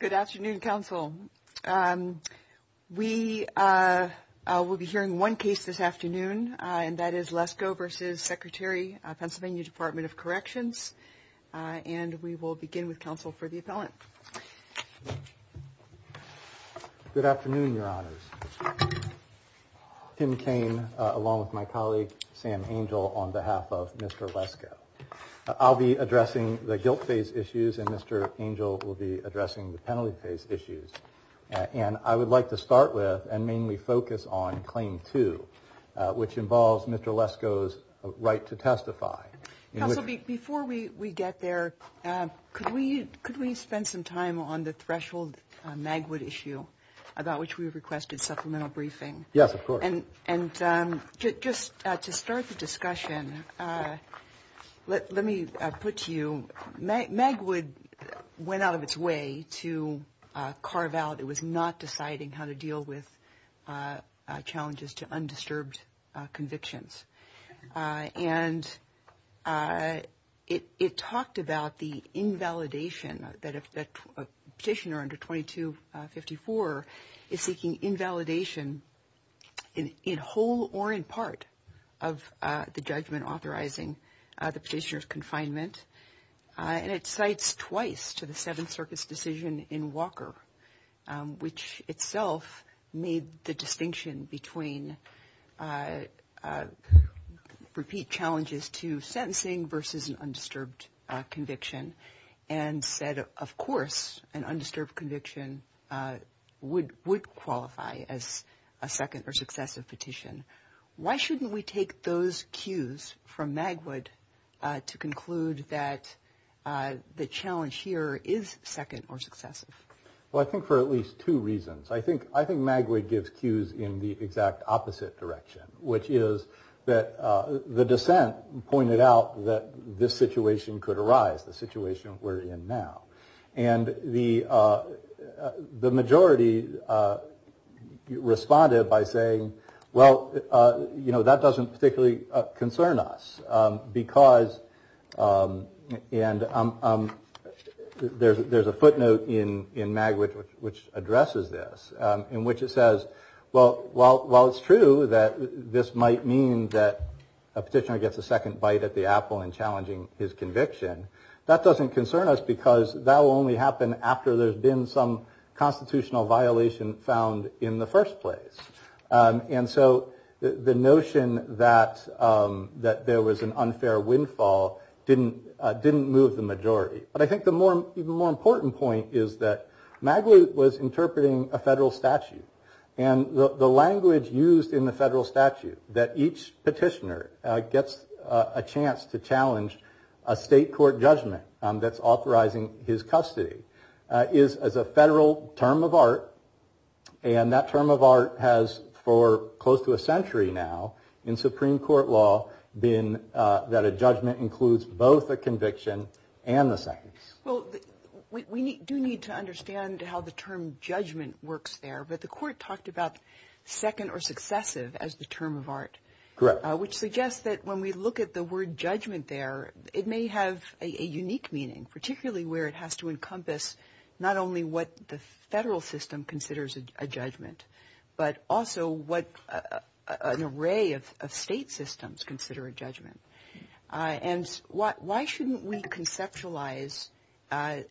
Good afternoon, counsel. We will be hearing one case this afternoon, and that is Lesko v. Secretary, Pennsylvania Department of Corrections, and we will begin with counsel for the appellant. Good afternoon, your honors. Tim Cain, along with my colleague, Sam Angel, on behalf of Mr. Lesko. I'll be addressing the guilt phase issues, and Mr. Angel will be addressing the penalty phase issues, and I would like to start with and mainly focus on Claim 2, which involves Mr. Lesko's right to testify. Before we get there, could we spend some time on the threshold Magwood issue about which we requested supplemental briefing? Yes, of course. And just to start the discussion, let me put to you, Magwood went out of its way to carve out, it was not deciding how to deal with challenges to undisturbed convictions. And it talked about the invalidation that a petitioner under 2254 is seeking invalidation in whole or in part of the judgment authorizing the petitioner's confinement. And it cites twice to the Seventh Circuit's decision in Walker, which itself made the distinction between repeat challenges to sentencing versus undisturbed conviction, and said, of course, an undisturbed conviction would qualify as a second or successive petition. Why shouldn't we take those cues from Magwood to conclude that the challenge here is second or successive? Well, I think for at least two reasons. I think Magwood gives cues in the exact opposite direction, which is that the dissent pointed out that this situation could arise, the situation we're in now. And the majority responded by saying, well, you know, that doesn't particularly concern us because, and there's a footnote in Magwood which addresses this, in which it says, well, while it's true that this might mean that a petitioner gets a second bite at the apple in challenging his conviction, that doesn't concern us because that will only happen after there's been some constitutional violation found in the first place. And so the notion that there was an unfair windfall didn't move the majority. But I think the even more important point is that Magwood was interpreting a federal statute, and the language used in the federal statute that each petitioner gets a chance to challenge a state court judgment that's authorizing his custody is a federal term of art. And that term of art has, for close to a century now, in Supreme Court law, been that a judgment includes both a conviction and a sentence. Well, we do need to understand how the term judgment works there, but the court talked about second or successive as the term of art. Correct. Which suggests that when we look at the word judgment there, it may have a unique meaning, particularly where it has to encompass not only what the federal system considers a judgment, but also what an array of state systems consider a judgment. And why shouldn't we conceptualize an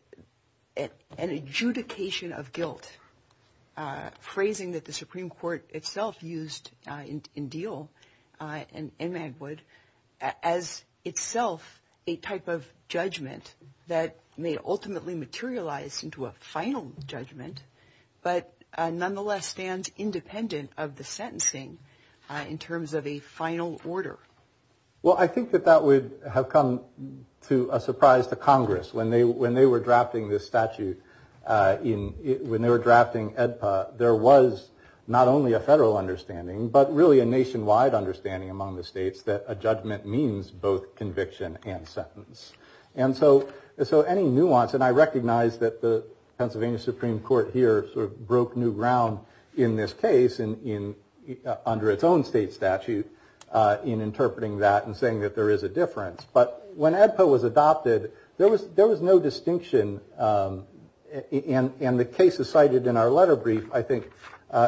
adjudication of guilt, phrasing that the Supreme Court itself used in Deal and Magwood as itself a type of judgment that may ultimately materialize into a final judgment, but nonetheless stand independent of the sentencing in terms of a final order? Well, I think that that would have come to a surprise to Congress when they were drafting this statute. When they were drafting EDPA, there was not only a federal understanding, but really a nationwide understanding among the states that a judgment means both conviction and sentence. And so any nuance, and I recognize that the Pennsylvania Supreme Court here sort of broke new ground in this case under its own state statute in interpreting that and saying that there is a difference. But when EDPA was adopted, there was no distinction, and the cases cited in our letter brief, I think,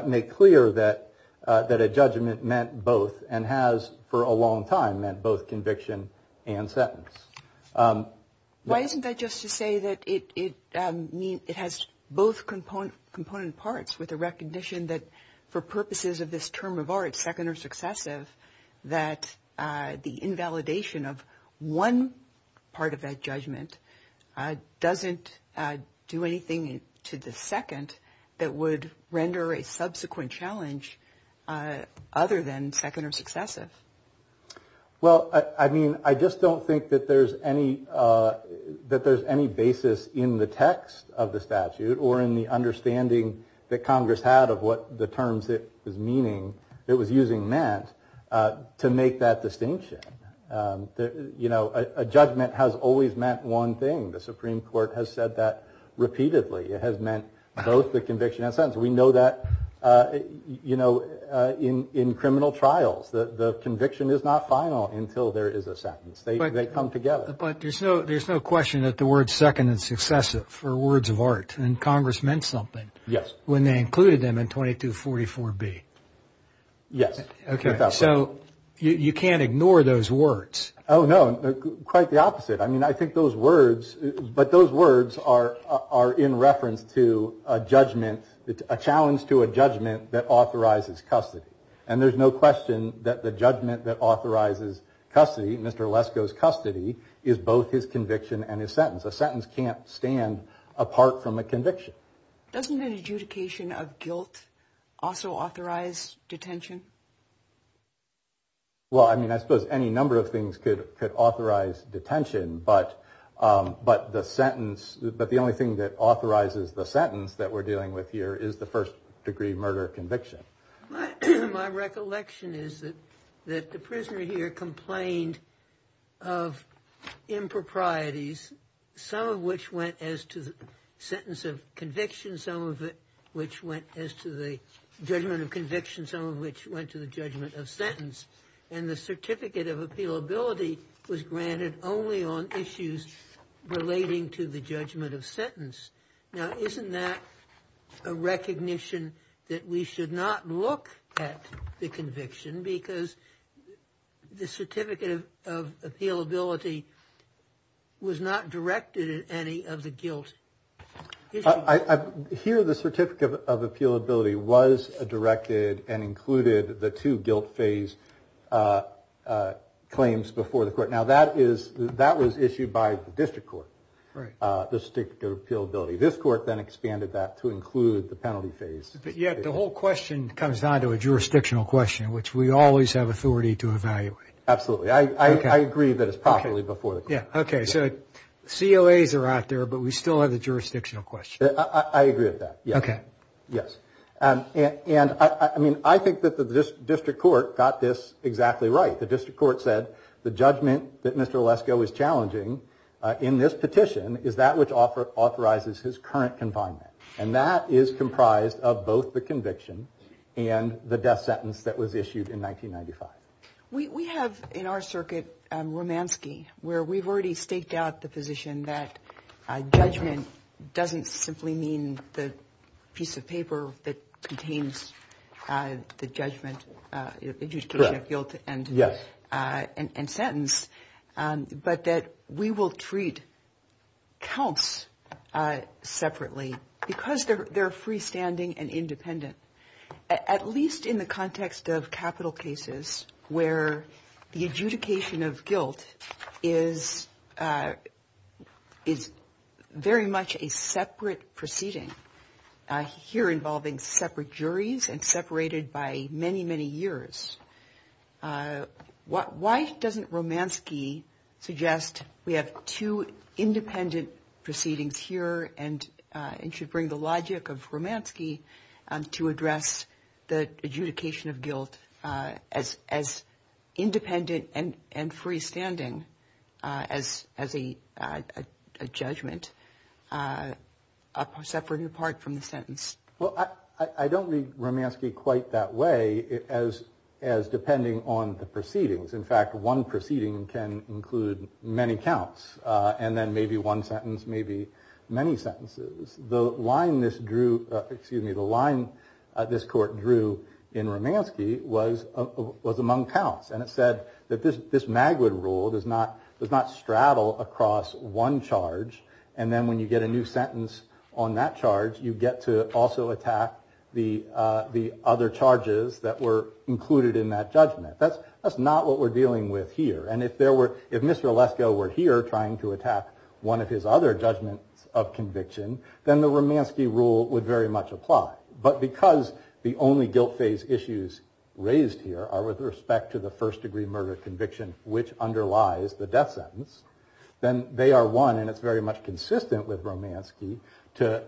make clear that a judgment meant both and has for a long time meant both conviction and sentence. Why isn't that just to say that it has both component parts with a recognition that for purposes of this term of art, second or successive, that the invalidation of one part of that judgment doesn't do anything to the second that would render a subsequent challenge other than second or successive? Well, I mean, I just don't think that there's any basis in the text of the statute or in the understanding that Congress had of what the terms it was using meant to make that distinction. A judgment has always meant one thing. The Supreme Court has said that repeatedly. It has meant both the conviction and sentence. We know that in criminal trials, the conviction is not final until there is a sentence. They come together. But there's no question that the word second and successive are words of art, and Congress meant something when they included them in 2244B. Yes. So you can't ignore those words. Oh, no, quite the opposite. I mean, I think those words, but those words are in reference to a judgment, a challenge to a judgment that authorizes custody. And there's no question that the judgment that authorizes custody, Mr. Lesko's custody, is both his conviction and his sentence. A sentence can't stand apart from a conviction. Doesn't the adjudication of guilt also authorize detention? Well, I mean, I suppose any number of things could authorize detention, but the sentence – but the only thing that authorizes the sentence that we're dealing with here is the first degree murder conviction. My recollection is that the prisoner here complained of improprieties, some of which went as to the sentence of conviction, some of which went as to the judgment of conviction, some of which went to the judgment of sentence. And the certificate of appealability was granted only on issues relating to the judgment of sentence. Now, isn't that a recognition that we should not look at the conviction because the certificate of appealability was not directed at any of the guilt issues? Absolutely. This court then expanded that to include the penalty phase. Yet the whole question comes down to a jurisdictional question, which we always have authority to evaluate. Absolutely. I agree that it's properly before the court. Okay, so COAs are out there, but we still have the jurisdictional question. I agree with that, yes. Okay. And that is comprised of both the conviction and the death sentence that was issued in 1995. We have, in our circuit, Romanski, where we've already staked out the position that judgment doesn't simply mean the piece of paper that contains the judgment. Yes. And sentence, but that we will treat counts separately because they're freestanding and independent, at least in the context of capital cases. Where the adjudication of guilt is very much a separate proceeding, here involving separate juries and separated by many, many years. Why doesn't Romanski suggest we have two independent proceedings here and should bring the logic of Romanski to address the adjudication of guilt as independent and freestanding as a judgment, separate and apart from the sentence? Well, I don't read Romanski quite that way as depending on the proceedings. In fact, one proceeding can include many counts and then maybe one sentence, maybe many sentences. The line this drew, excuse me, the line this court drew in Romanski was among counts. And it said that this Magwood rule does not straddle across one charge. And then when you get a new sentence on that charge, you get to also attack the other charges that were included in that judgment. That's not what we're dealing with here. And if Mr. Alesko were here trying to attack one of his other judgments of conviction, then the Romanski rule would very much apply. But because the only guilt phase issues raised here are with respect to the first degree murder conviction, which underlies the death sentence, then they are one, and it's very much consistent with Romanski, to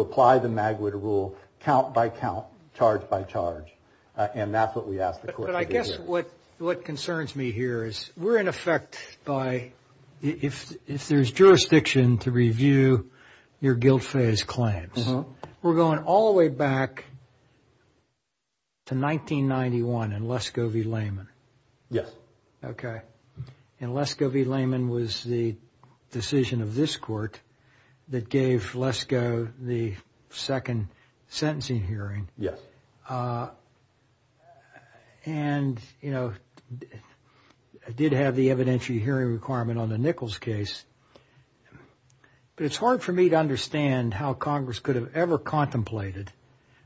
apply the Magwood rule count by count, charge by charge. And that's what we ask the court to do here. What concerns me here is we're in effect by, if there's jurisdiction to review your guilt phase claims, we're going all the way back to 1991 and Lesko v. Lehman. Yes. Okay. And Lesko v. Lehman was the decision of this court that gave Lesko the second sentencing hearing. And, you know, did have the evidentiary hearing requirement on the Nichols case. But it's hard for me to understand how Congress could have ever contemplated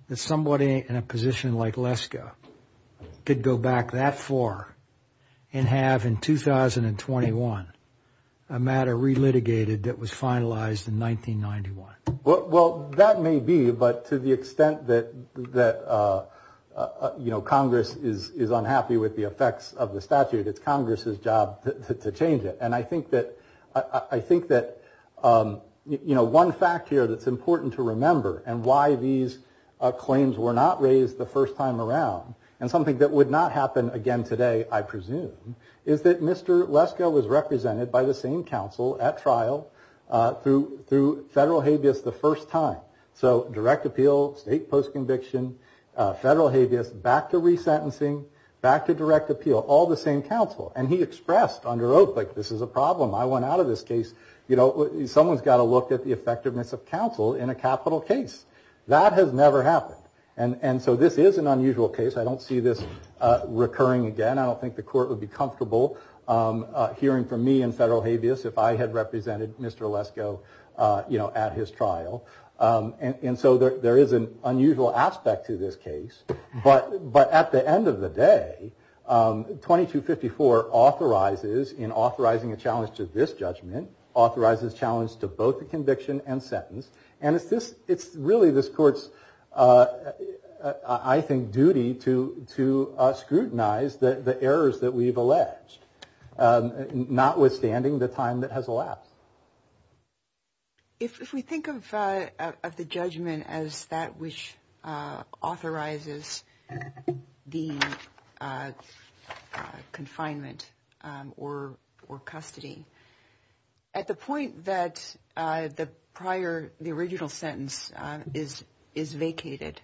that somebody in a position like Lesko could go back that far and have in 2021 a matter re-litigated that was finalized in 1991. Well, that may be, but to the extent that, you know, Congress is unhappy with the effects of the statute, it's Congress's job to change it. And I think that, you know, one fact here that's important to remember, and why these claims were not raised the first time around, and something that would not happen again today, I presume, is that Mr. Lesko was represented by the same counsel at trial through Federal Hages the first time. So direct appeal, state post-conviction, Federal Hages, back to resentencing, back to direct appeal, all the same counsel. And he expressed under Oakley, this is a problem, I want out of this case, you know, someone's got to look at the effectiveness of counsel in a capital case. That has never happened. And so this is an unusual case. I don't see this recurring again. I don't think the court would be comfortable hearing from me in Federal Hages if I had represented Mr. Lesko, you know, at his trial. And so there is an unusual aspect to this case. But at the end of the day, 2254 authorizes, in authorizing a challenge to this judgment, authorizes challenge to both the conviction and sentence. And it's really this court's, I think, duty to scrutinize the errors that we've alleged, notwithstanding the time that has elapsed. If we think of the judgment as that which authorizes the confinement or custody, at the point that the prior, the original sentence is vacated,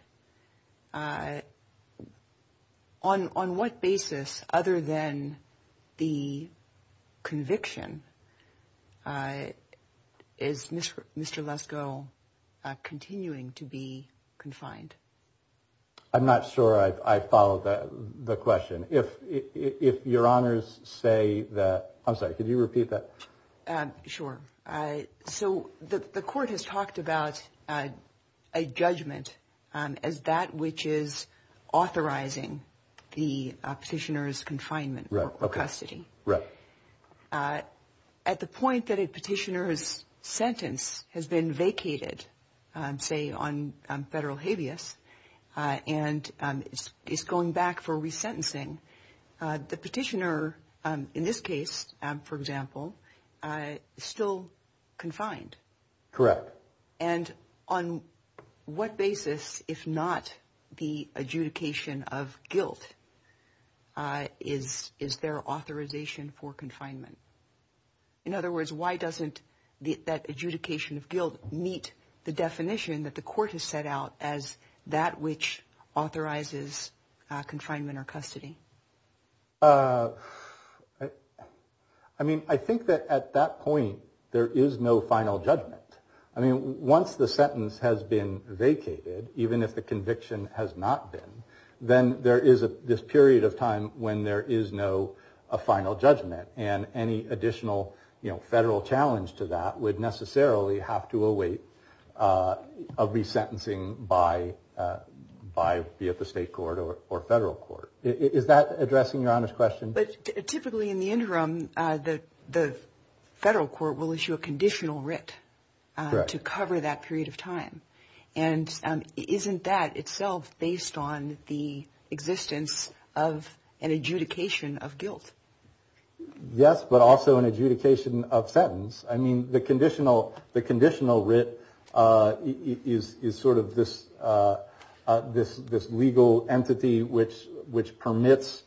on what basis, other than the conviction, is Mr. Lesko continuing to be confined? I'm not sure I follow the question. If your honors say that, I'm sorry, could you repeat that? Sure. So the court has talked about a judgment as that which is authorizing the petitioner's confinement or custody. Right. At the point that a petitioner's sentence has been vacated, say on Federal Habeas, and is going back for resentencing, the petitioner, in this case, for example, is still confined. Correct. And on what basis, if not the adjudication of guilt, is there authorization for confinement? In other words, why doesn't that adjudication of guilt meet the definition that the court has set out as that which authorizes confinement or custody? I mean, I think that at that point, there is no final judgment. I mean, once the sentence has been vacated, even if the conviction has not been, then there is this period of time when there is no final judgment. And any additional federal challenge to that would necessarily have to await a resentencing via the state court or federal court. Is that addressing your honors question? But typically in the interim, the federal court will issue a conditional writ to cover that period of time. And isn't that itself based on the existence of an adjudication of guilt? Yes, but also an adjudication of sentence. I mean, the conditional writ is sort of this legal entity which permits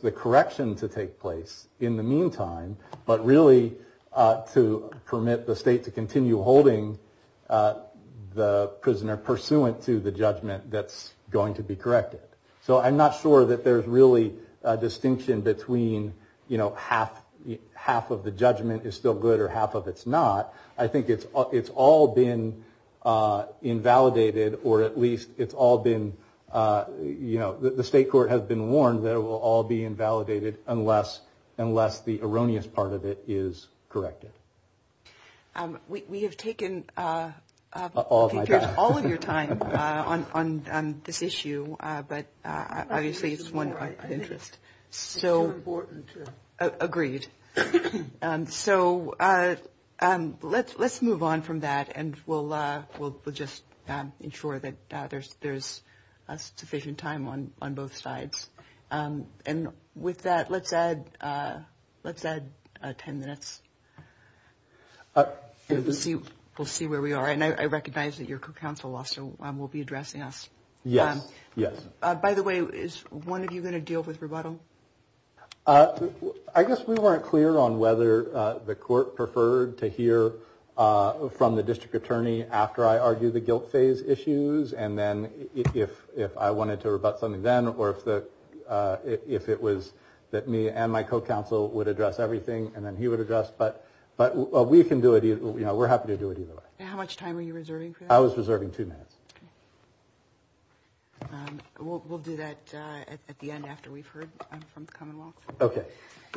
the correction to take place in the meantime, but really to permit the state to continue holding the prisoner pursuant to the judgment that's going to be corrected. So I'm not sure that there's really a distinction between, you know, half of the judgment is still good or half of it's not. I think it's all been invalidated or at least it's all been, you know, the state court has been warned that it will all be invalidated unless the erroneous part of it is corrected. We have taken pictures all of your time on this issue, but obviously it's one of our interests. Agreed. So let's move on from that and we'll just ensure that there's sufficient time on both sides. And with that, let's add 10 minutes. We'll see where we are. And I recognize that your counsel officer will be addressing us. By the way, is one of you going to deal with rebuttal? I guess we weren't clear on whether the court preferred to hear from the district attorney after I argued the guilt phase issues. And then if I wanted to rebut something then or if it was that me and my co-counsel would address everything and then he would address. But we can do it. You know, we're happy to do it either way. How much time are you reserving? I was reserving two minutes. We'll do that at the end after we've heard from the Commonwealth. Okay.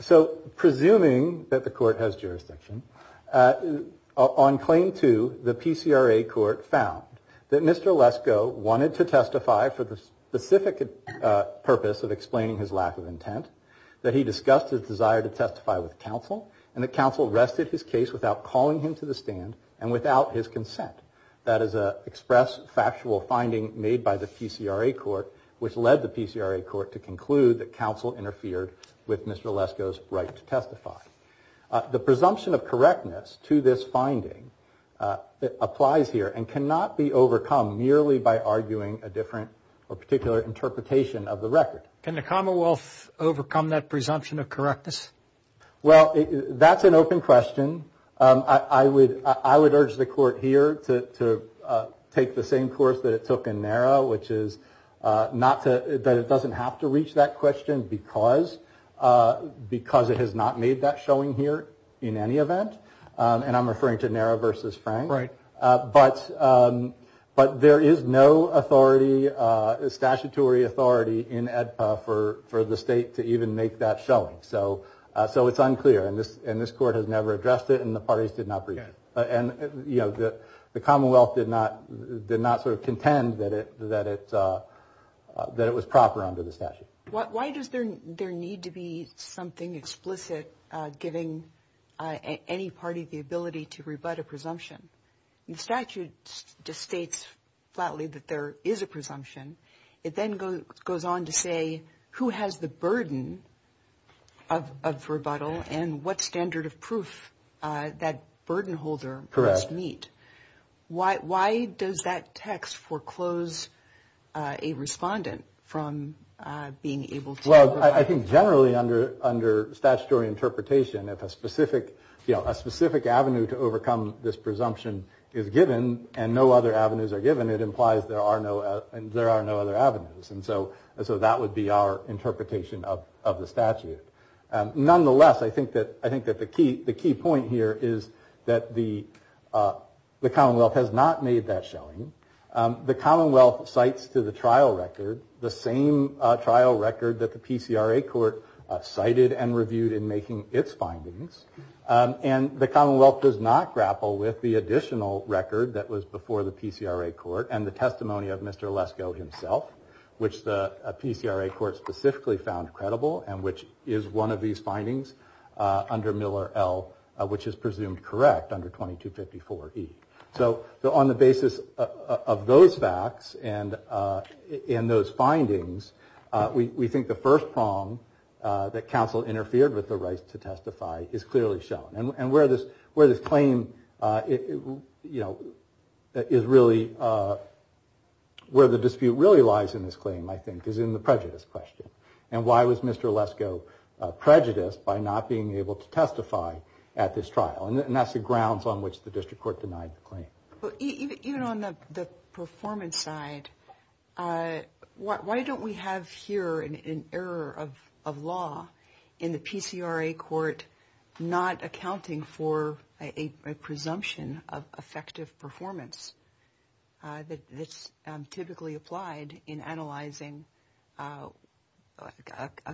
So presuming that the court has jurisdiction, on claim two, the PCRA court found that Mr. Lesko wanted to testify for the specific purpose of explaining his lack of intent, that he discussed his desire to testify with counsel, and that counsel rested his case without calling him to the stand and without his consent. That is an express factual finding made by the PCRA court which led the PCRA court to conclude that counsel interfered with Mr. Lesko's right to testify. The presumption of correctness to this finding applies here and cannot be overcome merely by arguing a different or particular interpretation of the record. Can the Commonwealth overcome that presumption of correctness? Well, that's an open question. I would urge the court here to take the same course that it took in NARA, which is that it doesn't have to reach that question because it has not made that showing here in any event. And I'm referring to NARA versus Frank. But there is no statutory authority in AEDPA for the state to even make that showing. So it's unclear and this court has never addressed it and the parties did not present it. And the Commonwealth did not sort of contend that it was proper under the statute. Why does there need to be something explicit giving any party the ability to rebut a presumption? The statute just states flatly that there is a presumption. It then goes on to say who has the burden of rebuttal and what standard of proof that burden holder must meet. Why does that text foreclose a respondent from being able to... Well, I think generally under statutory interpretation, if a specific avenue to overcome this presumption is given and no other avenues are given, it implies there are no other avenues. And so that would be our interpretation of the statute. Nonetheless, I think that the key point here is that the Commonwealth has not made that showing. The Commonwealth cites to the trial record the same trial record that the PCRA court cited and reviewed in making its findings. And the Commonwealth does not grapple with the additional record that was before the PCRA court and the testimony of Mr. Lesko himself, which the PCRA court specifically found credible and which is one of these findings under Miller L, which is presumed correct under 2254 E. So on the basis of those facts and those findings, we think the first prong that counsel interfered with the right to testify is clearly shown. And where the dispute really lies in this claim, I think, is in the prejudice question. And why was Mr. Lesko prejudiced by not being able to testify at this trial? And that's the grounds on which the district court denied the claim. Even on the performance side, why don't we have here an error of law in the PCRA court not accounting for a presumption of effective performance that's typically applied in analyzing a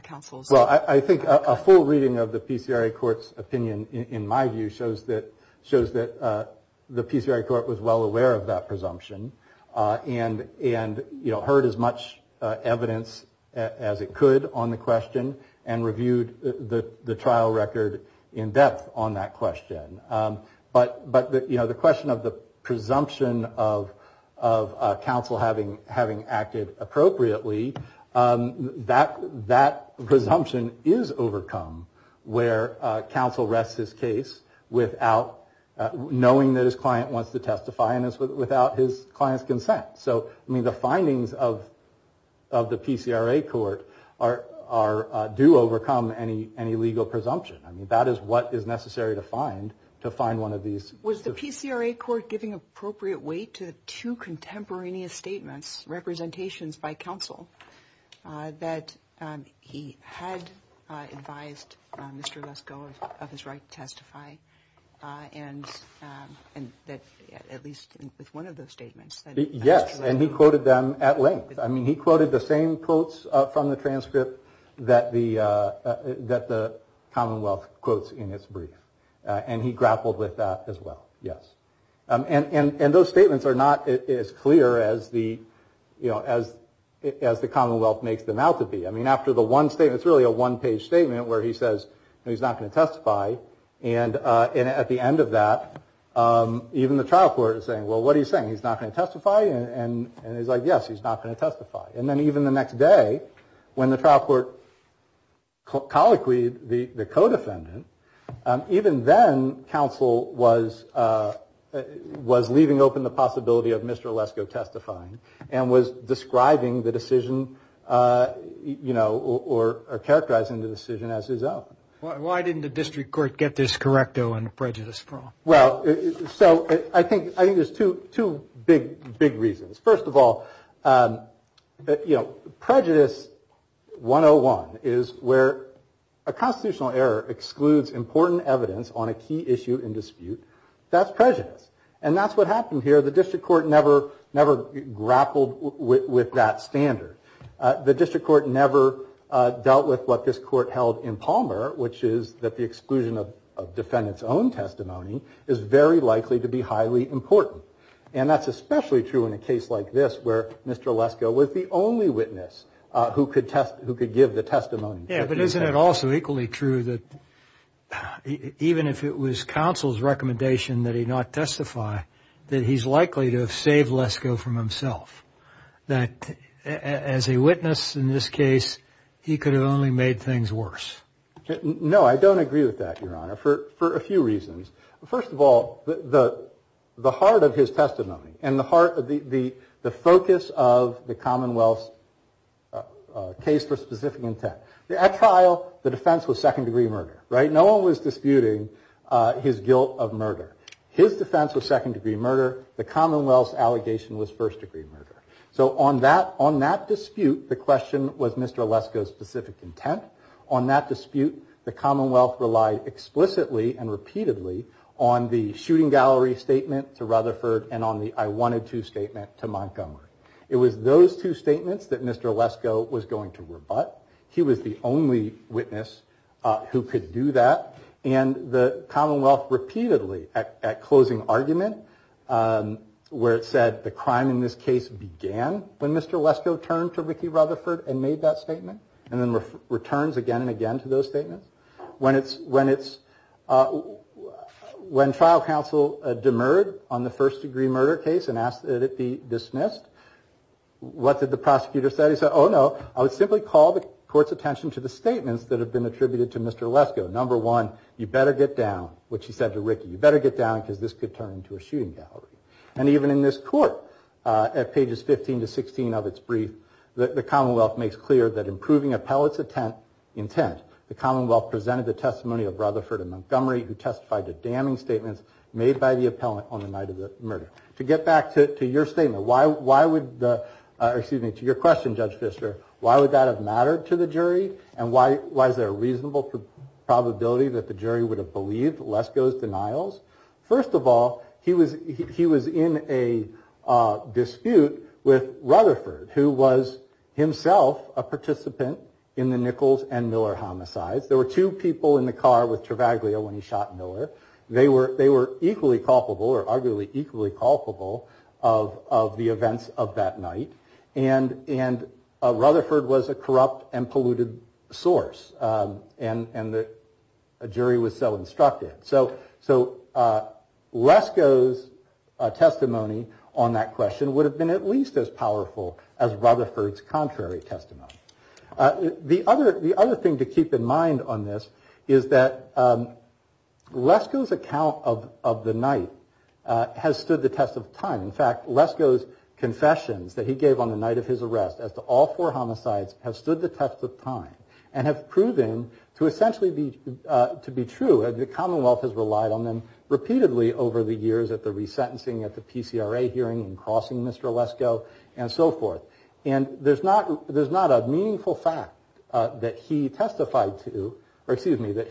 counsel's work? Well, I think a full reading of the PCRA court's opinion, in my view, shows that the PCRA court was well aware of that presumption and heard as much evidence as it could on the question and reviewed the trial record in depth on that question. But the question of the presumption of counsel having acted appropriately, that presumption is overcome where counsel rests his case without knowing that his client wants to testify and without his client's consent. So the findings of the PCRA court do overcome any legal presumption. I mean, that is what is necessary to find, to find one of these... Was the PCRA court giving appropriate weight to two contemporaneous statements, representations by counsel, that he had advised Mr. Lesko of his right to testify? And that, at least with one of those statements... Yes, and he quoted them at length. I mean, he quoted the same quotes from the transcript that the Commonwealth quotes in its brief. And he grappled with that as well, yes. And those statements are not as clear as the, you know, as the Commonwealth makes them out to be. I mean, after the one statement, it's really a one-page statement where he says he's not going to testify. And at the end of that, even the trial court is saying, well, what are you saying? He's not going to testify? And he's like, yes, he's not going to testify. And then even the next day, when the trial court colloquied the co-defendant, even then, counsel was leaving open the possibility of Mr. Lesko testifying and was describing the decision, you know, or characterizing the decision as his own. Why didn't the district court get this correcto in prejudice? Well, so I think there's two big, big reasons. First of all, you know, prejudice 101 is where a constitutional error excludes important evidence on a key issue in dispute. That's prejudice. And that's what happened here. The district court never grappled with that standard. The district court never dealt with what this court held in Palmer, which is that the exclusion of defendant's own testimony is very likely to be highly important. And that's especially true in a case like this where Mr. Lesko was the only witness who could give the testimony. Yeah, but isn't it also equally true that even if it was counsel's recommendation that he not testify, that he's likely to have saved Lesko from himself? That as a witness in this case, he could have only made things worse. No, I don't agree with that, Your Honor, for a few reasons. First of all, the heart of his testimony and the heart of the focus of the Commonwealth case for specific intent. At trial, the defense was second degree murder, right? No one was disputing his guilt of murder. His defense was second degree murder. The Commonwealth's allegation was first degree murder. So on that dispute, the question was Mr. Lesko's specific intent. On that dispute, the Commonwealth relied explicitly and repeatedly on the shooting gallery statement to Rutherford and on the I wanted to statement to Montgomery. It was those two statements that Mr. Lesko was going to rebut. He was the only witness who could do that. And the Commonwealth repeatedly at closing argument where it said the crime in this case began when Mr. Lesko turned to Ricky Rutherford and made that statement and then returns again and again to those statements. When trial counsel demurred on the first degree murder case and asked that it be dismissed, what did the prosecutor say? He said, oh no, I would simply call the court's attention to the statements that have been attributed to Mr. Lesko. Number one, you better get down, which he said to Ricky, you better get down because this could turn into a shooting gallery. And even in this court, at pages 15 to 16 of its brief, the Commonwealth makes clear that improving appellate's intent, the Commonwealth presented the testimony of Rutherford and Montgomery who testified to damning statements made by the appellant on the night of the murder. To get back to your statement, to your question, Judge Fischer, why would that have mattered to the jury and why is there a reasonable probability that the jury would have believed Lesko's denials? First of all, he was in a dispute with Rutherford who was himself a participant in the Nichols and Miller homicides. There were two people in the car with Travaglia when he shot Miller. They were equally culpable or arguably equally culpable of the events of that night and Rutherford was a corrupt and polluted source and the jury was so instructed. So Lesko's testimony on that question would have been at least as powerful as Rutherford's contrary testimony. The other thing to keep in mind on this is that Lesko's account of the night has stood the test of time. In fact, Lesko's confessions that he gave on the night of his arrest as to all four homicides have stood the test of time and have proven to essentially be true. The Commonwealth has relied on them repeatedly over the years at the resentencing, at the PCRA hearing and crossing Mr. Lesko and so forth. And there's not a meaningful fact that he testified to or excuse me that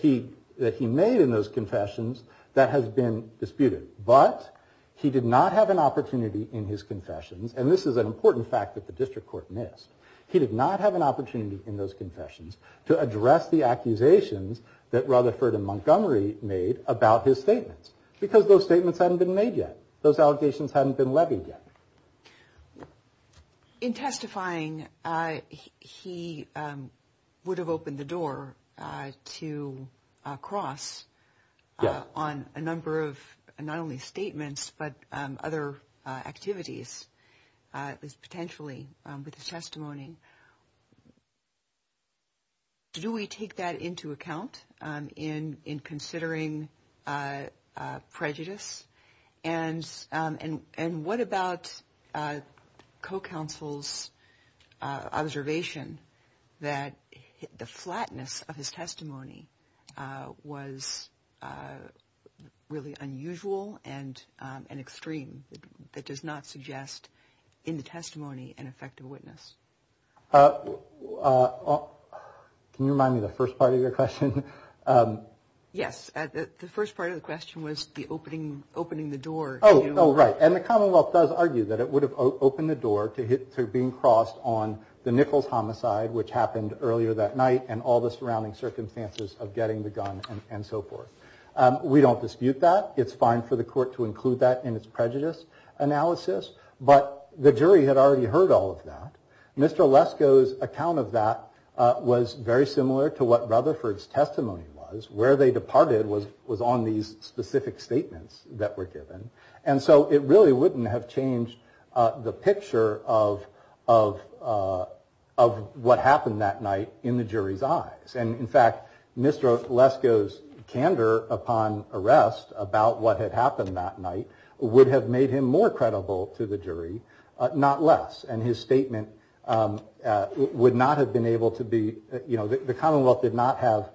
he made in those confessions that has been disputed. But he did not have an opportunity in his confession and this is an important fact that the district court missed. He did not have an opportunity in those confessions to address the accusations that Rutherford and Montgomery made about his statements because those statements hadn't been made yet. Those allegations hadn't been levied yet. In testifying, he would have opened the door to a cross on a number of not only statements but other activities potentially with his testimony. Do we take that into account in considering prejudice and what about co-counsel's observation that the flatness of his testimony was really unusual and extreme? It does not suggest in the testimony an effective witness. Can you remind me of the first part of your question? Yes. The first part of the question was the opening the door. Oh right. And the Commonwealth does argue that it would have opened the door to being crossed on the Nichols homicide which happened earlier that night and all the surrounding circumstances of getting the gun and so forth. We don't dispute that. It's fine for the court to include that in its prejudice analysis but the jury had already heard all of that. Mr. Lesko's account of that was very similar to what Rutherford's testimony was. Where they departed was on these specific statements that were given and so it really wouldn't have changed the picture of what happened that night in the jury's eyes. And in fact, Mr. Lesko's candor upon arrest about what had happened that night would have made him more credible to the jury, not less. And his statement would not have been able to be, you know, the Commonwealth did not have,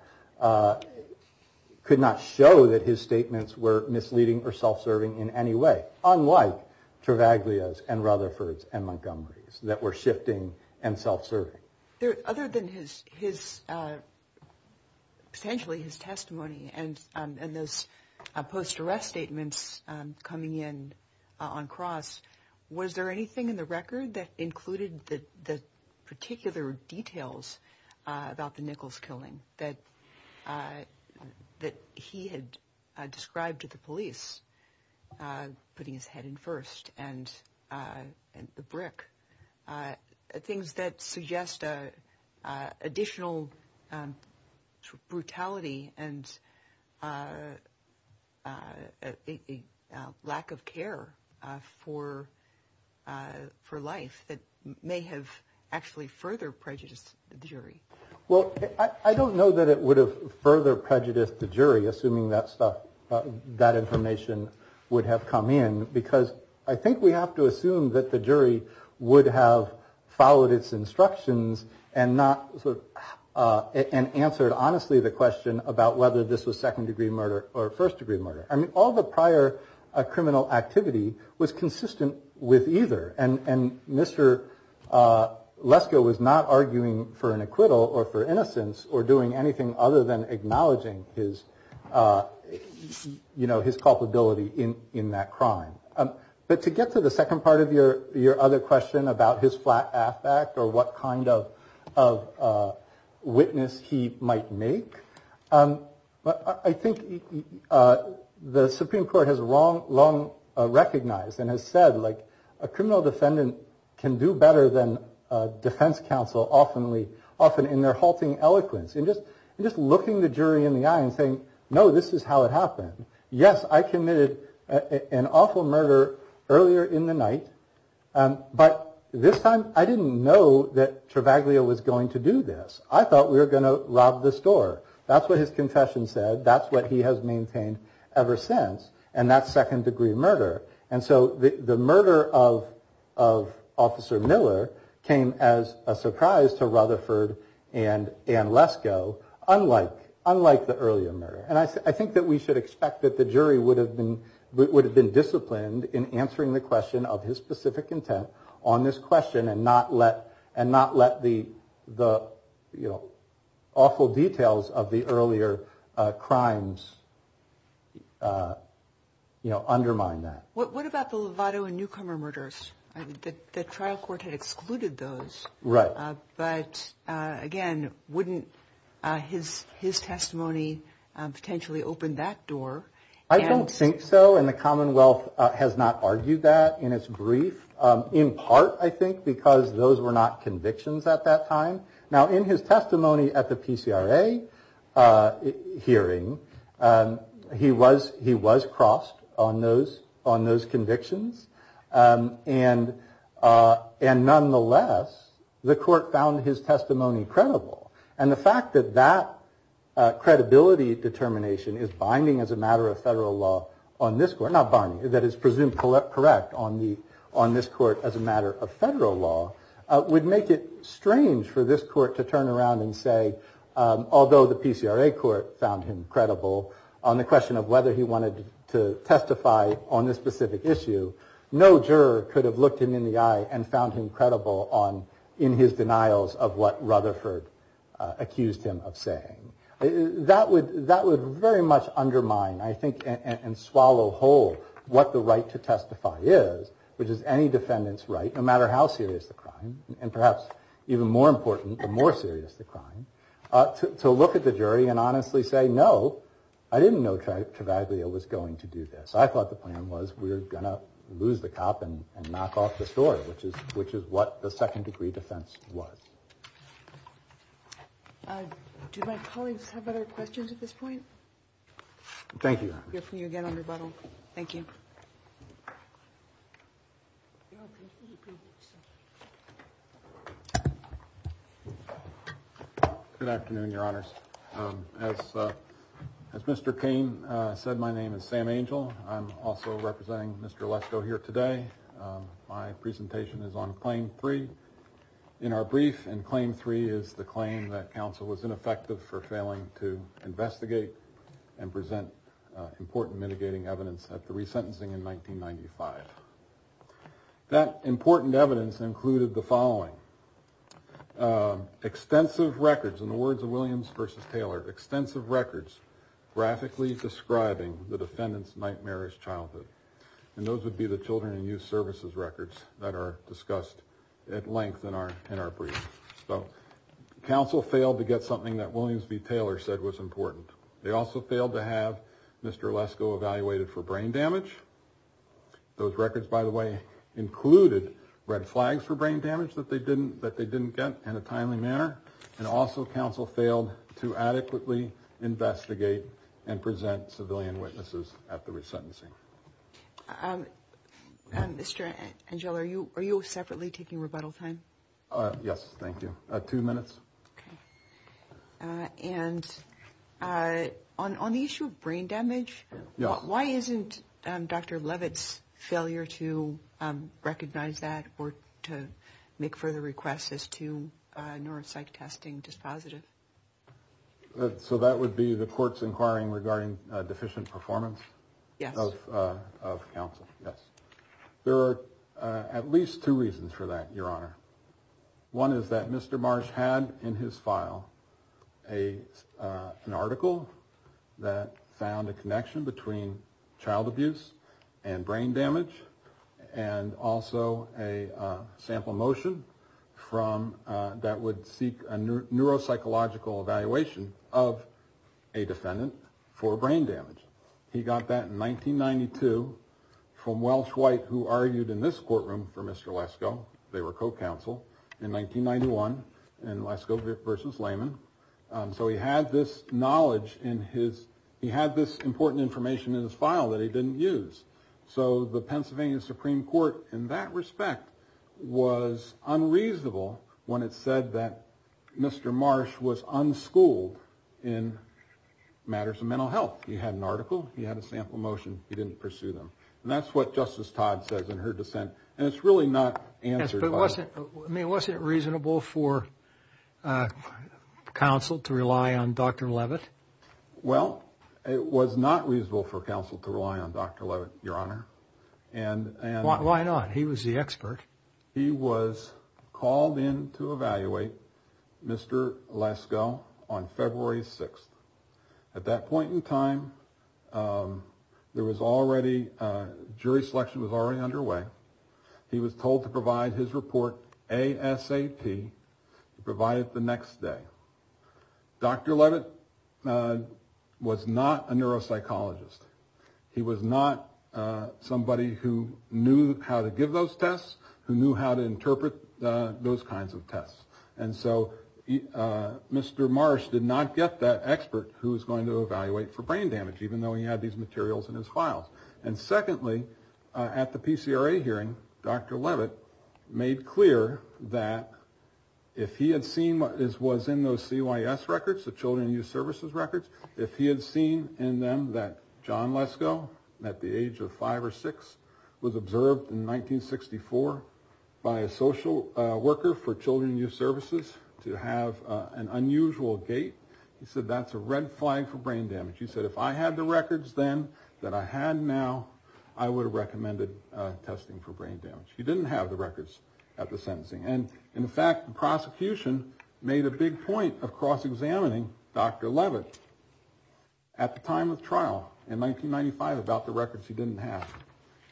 could not show that his statements were misleading or self-serving in any way. Unlike Travaglia's and Rutherford's and Montgomery's that were shifting and self-serving. Other than potentially his testimony and his post-arrest statements coming in on cross, was there anything in the record that included the particular details about the Nichols killing that he had described to the police? Putting his head in first and the brick. Things that suggest additional brutality and lack of care for life that may have actually further prejudiced the jury. Well, I don't know that it would have further prejudiced the jury, assuming that stuff that information would have come in, because I think we have to assume that the jury would have followed its instructions and not. And answered, honestly, the question about whether this was second degree murder or first degree murder. I mean, all the prior criminal activity was consistent with either. And Mr. Lesko was not arguing for an acquittal or for innocence or doing anything other than acknowledging his, you know, his culpability in that crime. But to get to the second part of your other question about his flat back or what kind of witness he might make. I think the Supreme Court has long recognized and has said, like, a criminal defendant can do better than a defense counsel often in their halting eloquence. And just looking the jury in the eye and saying, no, this is how it happened. Yes, I committed an awful murder earlier in the night. But this time I didn't know that Travaglia was going to do this. I thought we were going to rob the store. That's what his confession said. That's what he has maintained ever since. And that's second degree murder. And so the murder of Officer Miller came as a surprise to Rutherford and Lesko, unlike the earlier murder. And I think that we should expect that the jury would have been disciplined in answering the question of his specific intent on this question. And not let the awful details of the earlier crimes undermine that. What about the Lovato and Newcomer murders? The trial court had excluded those. Right. But, again, wouldn't his testimony potentially open that door? I don't think so. And the Commonwealth has not argued that in its brief. In part, I think, because those were not convictions at that time. Now, in his testimony at the PCRA hearing, he was he was crossed on those on those convictions. And and nonetheless, the court found his testimony credible. And the fact that that credibility determination is binding as a matter of federal law on this court, not binding, that is presumed correct on the on this court as a matter of federal law, would make it strange for this court to turn around and say, although the PCRA court found him credible on the question of whether he wanted to testify on this specific issue. No juror could have looked him in the eye and found him credible on in his denials of what Rutherford accused him of saying. That would that would very much undermine, I think, and swallow whole what the right to testify is, which is any defendant's right, no matter how serious the crime. And perhaps even more important, the more serious the crime to look at the jury and honestly say, no, I didn't know Travaglia was going to do this. So I thought the plan was we're going to lose the cop and knock off the story, which is which is what the second degree defense was. Do my colleagues have other questions at this point? Thank you. Thank you. Good afternoon, your honors. As Mr. Cain said, my name is Sam Angel. I'm also representing Mr. Electro here today. My presentation is on claim three in our brief and claim three is the claim that counsel was ineffective for failing to investigate and present important mitigating evidence at the resentencing in 1995. That important evidence included the following extensive records in the words of Williams versus Taylor, extensive records graphically describing the defendant's nightmarish childhood. And those would be the children and youth services records that are discussed at length in our in our brief. So counsel failed to get something that Williams v. Taylor said was important. They also failed to have Mr. Lesko evaluated for brain damage. Those records, by the way, included red flags for brain damage that they didn't that they didn't get in a timely manner. And also counsel failed to adequately investigate and present civilian witnesses at the resentencing. Mr. Angel, are you are you separately taking rebuttal time? Yes. Thank you. Two minutes. And on the issue of brain damage, why isn't Dr. Levitt's failure to recognize that or to make further requests as to neuropsych testing dispositive? So that would be the court's inquiring regarding deficient performance. Yes. Of counsel. Yes. There are at least two reasons for that, Your Honor. One is that Mr. Marsh had in his file a an article that found a connection between child abuse and brain damage and also a sample motion from that would seek a neuropsychological evaluation of a defendant for brain damage. He got that in 1992 from Welsh White, who argued in this courtroom for Mr. Lesko. They were co-counsel in 1991 and Lesko versus Lehman. So he had this knowledge in his he had this important information in his file that he didn't use. So the Pennsylvania Supreme Court in that respect was unreasonable when it said that Mr. Marsh was unschooled in matters of mental health. He had an article. He had a sample motion. He didn't pursue them. And that's what Justice Todd says in her dissent. And it's really not answered. Wasn't it reasonable for counsel to rely on Dr. Levitt? Well, it was not reasonable for counsel to rely on Dr. Levitt, Your Honor. And why not? He was the expert. He was called in to evaluate Mr. Lesko on February 6th. At that point in time, there was already jury selection was already underway. He was told to provide his report ASAP, to provide it the next day. Dr. Levitt was not a neuropsychologist. He was not somebody who knew how to give those tests, who knew how to interpret those kinds of tests. And so Mr. Marsh did not get that expert who was going to evaluate for brain damage, even though he had these materials in his file. And secondly, at the PCRA hearing, Dr. Levitt made clear that if he had seen what was in those CYS records, the Children in Youth Services records, if he had seen in them that John Lesko, at the age of five or six, was observed in 1964 by a social worker for Children in Youth Services to have an unusual gait, he said, that's a red flag for brain damage. He said, if I had the records then that I had now, I would have recommended testing for brain damage. He didn't have the records at the sentencing. And in fact, the prosecution made a big point of cross-examining Dr. Levitt at the time of trial in 1995 about the records he didn't have.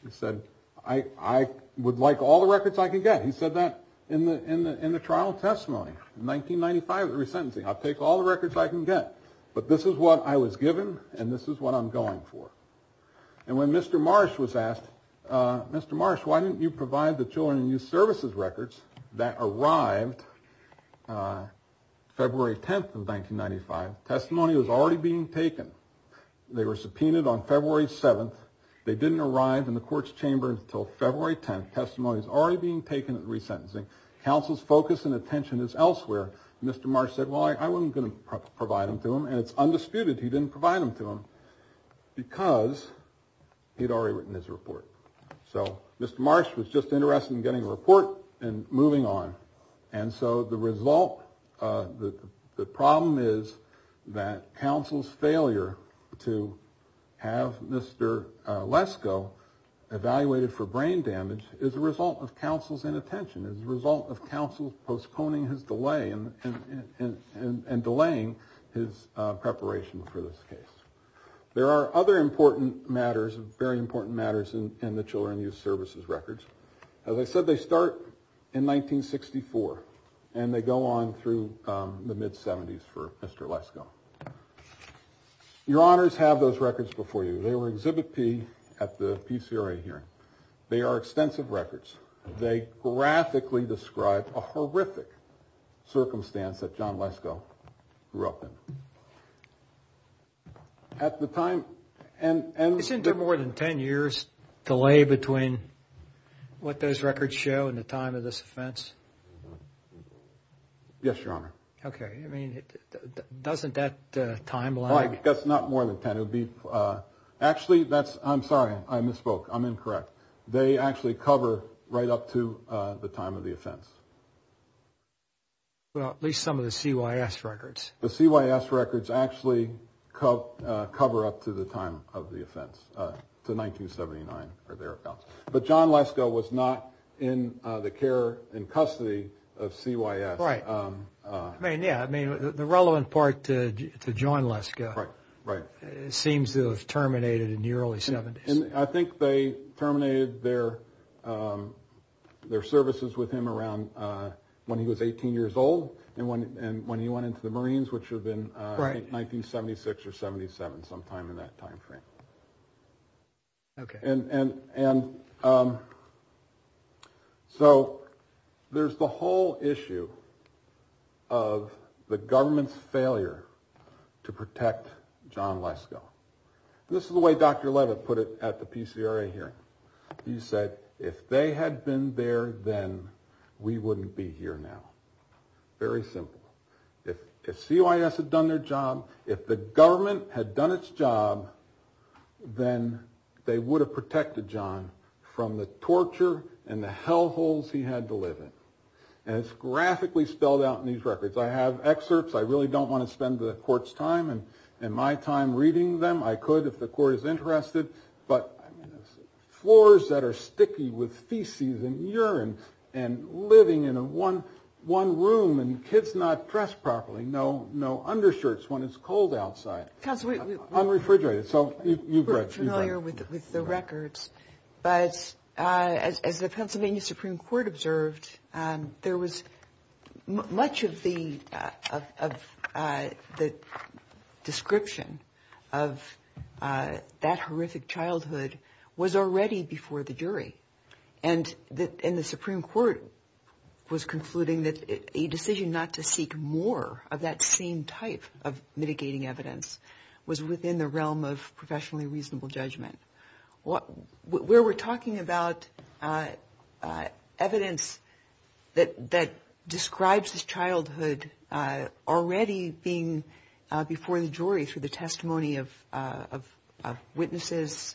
He said, I would like all the records I can get. He said that in the trial testimony in 1995 at the resentencing. I'll take all the records I can get, but this is what I was given and this is what I'm going for. And when Mr. Marsh was asked, Mr. Marsh, why didn't you provide the Children in Youth Services records that arrived February 10th of 1995, testimony was already being taken. They were subpoenaed on February 7th. They didn't arrive in the court's chamber until February 10th. Testimony is already being taken at the resentencing. Counsel's focus and attention is elsewhere. Mr. Marsh said, well, I wasn't going to provide them to him, and it's undisputed he didn't provide them to him. Because he'd already written his report. So Mr. Marsh was just interested in getting a report and moving on. And so the result, the problem is that counsel's failure to have Mr. Lesko evaluated for brain damage is a result of counsel's inattention. It's a result of counsel postponing his delay and delaying his preparation for this case. There are other important matters, very important matters in the Children in Youth Services records. As I said, they start in 1964 and they go on through the mid-70s for Mr. Lesko. Your honors have those records before you. They were exhibited at the PCRA hearing. They are extensive records. They graphically describe a horrific circumstance that John Lesko grew up in. At the time... Isn't there more than 10 years delay between what those records show and the time of this offense? Yes, your honor. Okay. I mean, doesn't that timeline... That's not more than 10. Actually, that's... I'm sorry. I misspoke. I'm incorrect. They actually cover right up to the time of the offense. Well, at least some of the CYS records. The CYS records actually cover up to the time of the offense, to 1979 for their account. But John Lesko was not in the care and custody of CYS. Right. I mean, yeah. I mean, the relevant part to John Lesko seems to have terminated in the early 70s. And I think they terminated their services with him around when he was 18 years old and when he went into the Marines, which would have been 1976 or 77, sometime in that time frame. Okay. So there's the whole issue of the government's failure to protect John Lesko. This is the way Dr. Levitt put it at the PCRA hearing. He said, if they had been there, then we wouldn't be here now. Very simple. If CYS had done their job, if the government had done its job, then they would have protected John from the torture and the hell holes he had to live in. And it's graphically spelled out in these records. I have excerpts. I really don't want to spend the court's time and my time reading them. I could if the court is interested. But floors that are sticky with feces and urine and living in one room and kids not dressed properly. No undershirts when it's cold outside. Unrefrigerated. So you've read. We're familiar with the records. But as the Pennsylvania Supreme Court observed, there was much of the description of that horrific childhood was already before the jury. And the Supreme Court was concluding that a decision not to seek more of that same type of mitigating evidence was within the realm of professionally reasonable judgment. Where we're talking about evidence that describes his childhood already being before the jury through the testimony of witnesses,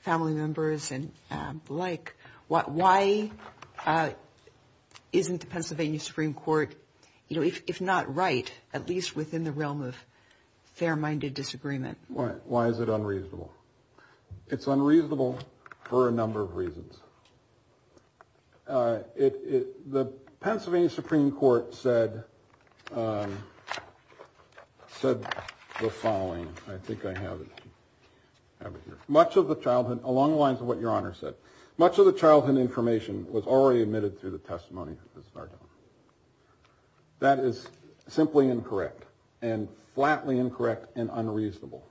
family members, and the like, why isn't the Pennsylvania Supreme Court, if not right, at least within the realm of fair-minded disagreement? Why is it unreasonable? It's unreasonable for a number of reasons. The Pennsylvania Supreme Court said the following. I think I have it. Much of the childhood, along the lines of what Your Honor said, much of the childhood information was already admitted through the testimony. That is simply incorrect and flatly incorrect and unreasonable.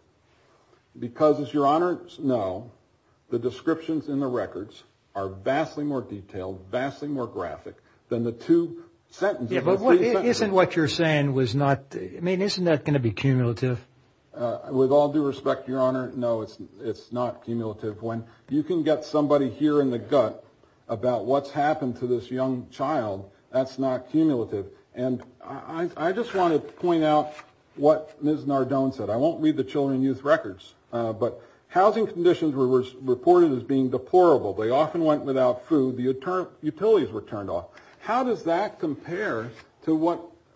Because as Your Honors know, the descriptions in the records are vastly more detailed, vastly more graphic than the two sentences. But isn't what you're saying was not, I mean, isn't that going to be cumulative? With all due respect, Your Honor, no, it's not cumulative. When you can get somebody here in the gut about what's happened to this young child, that's not cumulative. And I just want to point out what Ms. Nardone said. I won't read the children and youth records, but housing conditions were reported as being deplorable. They often went without food. The utilities were turned off. How does that compare to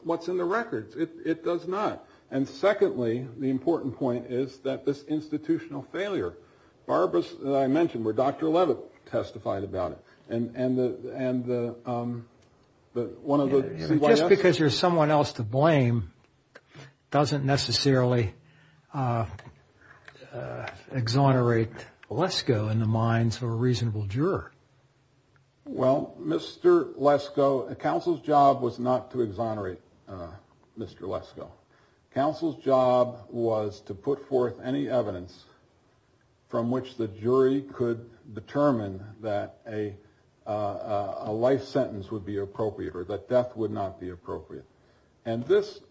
what's in the records? It does not. And, secondly, the important point is that this institutional failure, Barbara, as I mentioned, where Dr. Levitt testified about it, and one of the- Just because there's someone else to blame doesn't necessarily exonerate Lesko in the minds of a reasonable juror. Well, Mr. Lesko, counsel's job was not to exonerate Mr. Lesko. Counsel's job was to put forth any evidence from which the jury could determine that a life sentence would be appropriate or that death would not be appropriate. And this,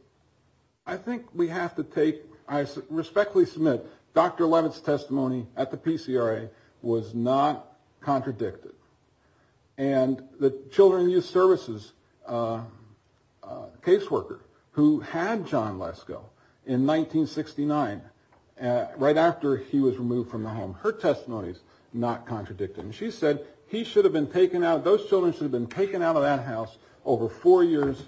I think we have to take- I respectfully submit Dr. Levitt's testimony at the PCRA was not contradicted. And the children and youth services caseworker who had John Lesko in 1969, right after he was removed from the home, her testimony is not contradicting. She said he should have been taken out- those children should have been taken out of that house over four years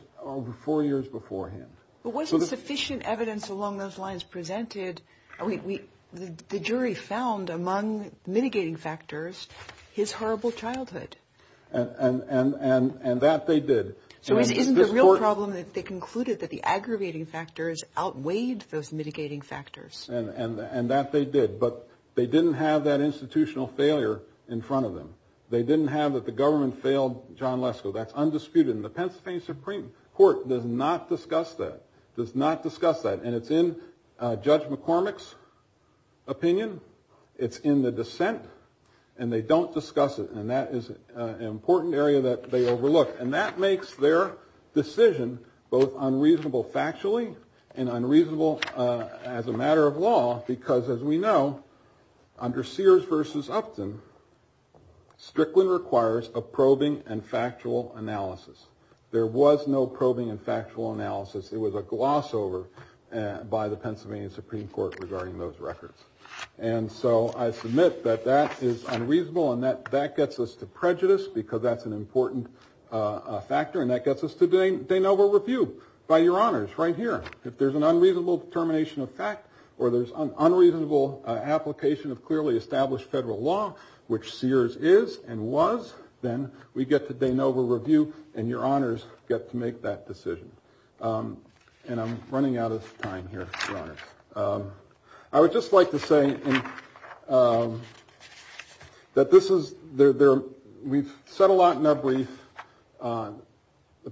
beforehand. But wasn't sufficient evidence along those lines presented- I mean, the jury found among mitigating factors his horrible childhood. And that they did. So it isn't a real problem that they concluded that the aggravating factors outweighed those mitigating factors. And that they did. But they didn't have that institutional failure in front of them. They didn't have that the government failed John Lesko. That's undisputed. And the Pennsylvania Supreme Court does not discuss that. Does not discuss that. And it's in Judge McCormick's opinion. It's in the dissent. And they don't discuss it. And that is an important area that they overlook. And that makes their decision both unreasonable factually and unreasonable as a matter of law. Because as we know, under Sears v. Upton, Strickland requires a probing and factual analysis. There was no probing and factual analysis. It was a gloss over by the Pennsylvania Supreme Court regarding those records. And so I submit that that is unreasonable and that gets us to prejudice because that's an important factor. And that gets us to de novo review by your honors right here. If there's an unreasonable determination of fact or there's an unreasonable application of clearly established federal law, which Sears is and was, then we get to de novo review and your honors get to make that decision. And I'm running out of time here, your honors. I would just like to say that this is – we've said a lot in that brief. The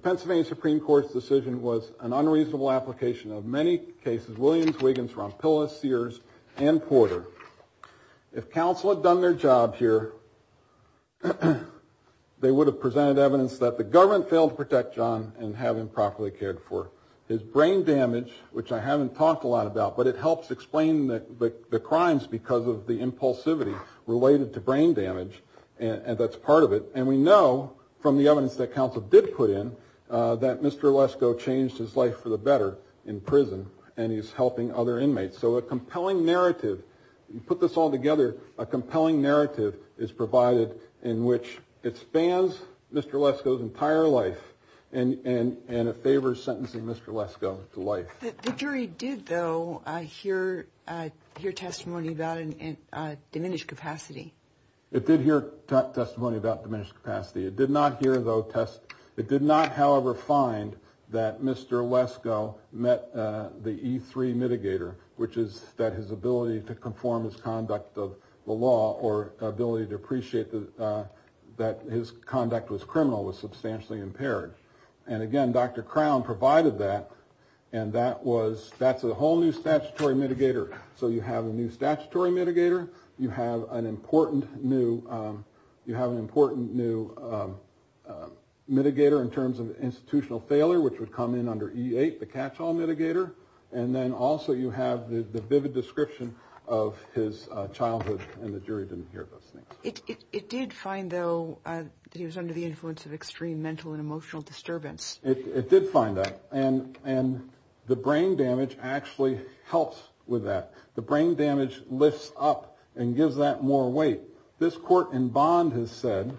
Pennsylvania Supreme Court's decision was an unreasonable application of many cases, Williams, Wiggins, Ronpilla, Sears, and Porter. If counsel had done their job here, they would have presented evidence that the government failed to protect John and have him properly cared for. His brain damage, which I haven't talked a lot about, but it helps explain the crimes because of the impulsivity related to brain damage, and that's part of it. And we know from the evidence that counsel did put in that Mr. Lesko changed his life for the better in prison, and he's helping other inmates. So a compelling narrative – put this all together – a compelling narrative is provided in which it spans Mr. Lesko's entire life and it favors sentencing Mr. Lesko to life. The jury did, though, hear testimony about diminished capacity. It did hear testimony about diminished capacity. It did not, however, find that Mr. Lesko met the E3 mitigator, which is that his ability to conform his conduct of the law or ability to appreciate that his conduct was criminal was substantially impaired. And again, Dr. Crown provided that, and that was – that's a whole new statutory mitigator. So you have a new statutory mitigator. You have an important new – you have an important new mitigator in terms of institutional failure, which would come in under E8, the catch-all mitigator. And then also you have the vivid description of his childhood, and the jury didn't hear about that. It did find, though, that he was under the influence of extreme mental and emotional disturbance. It did find that. And the brain damage actually helps with that. The brain damage lifts up and gives that more weight. This court in Bond has said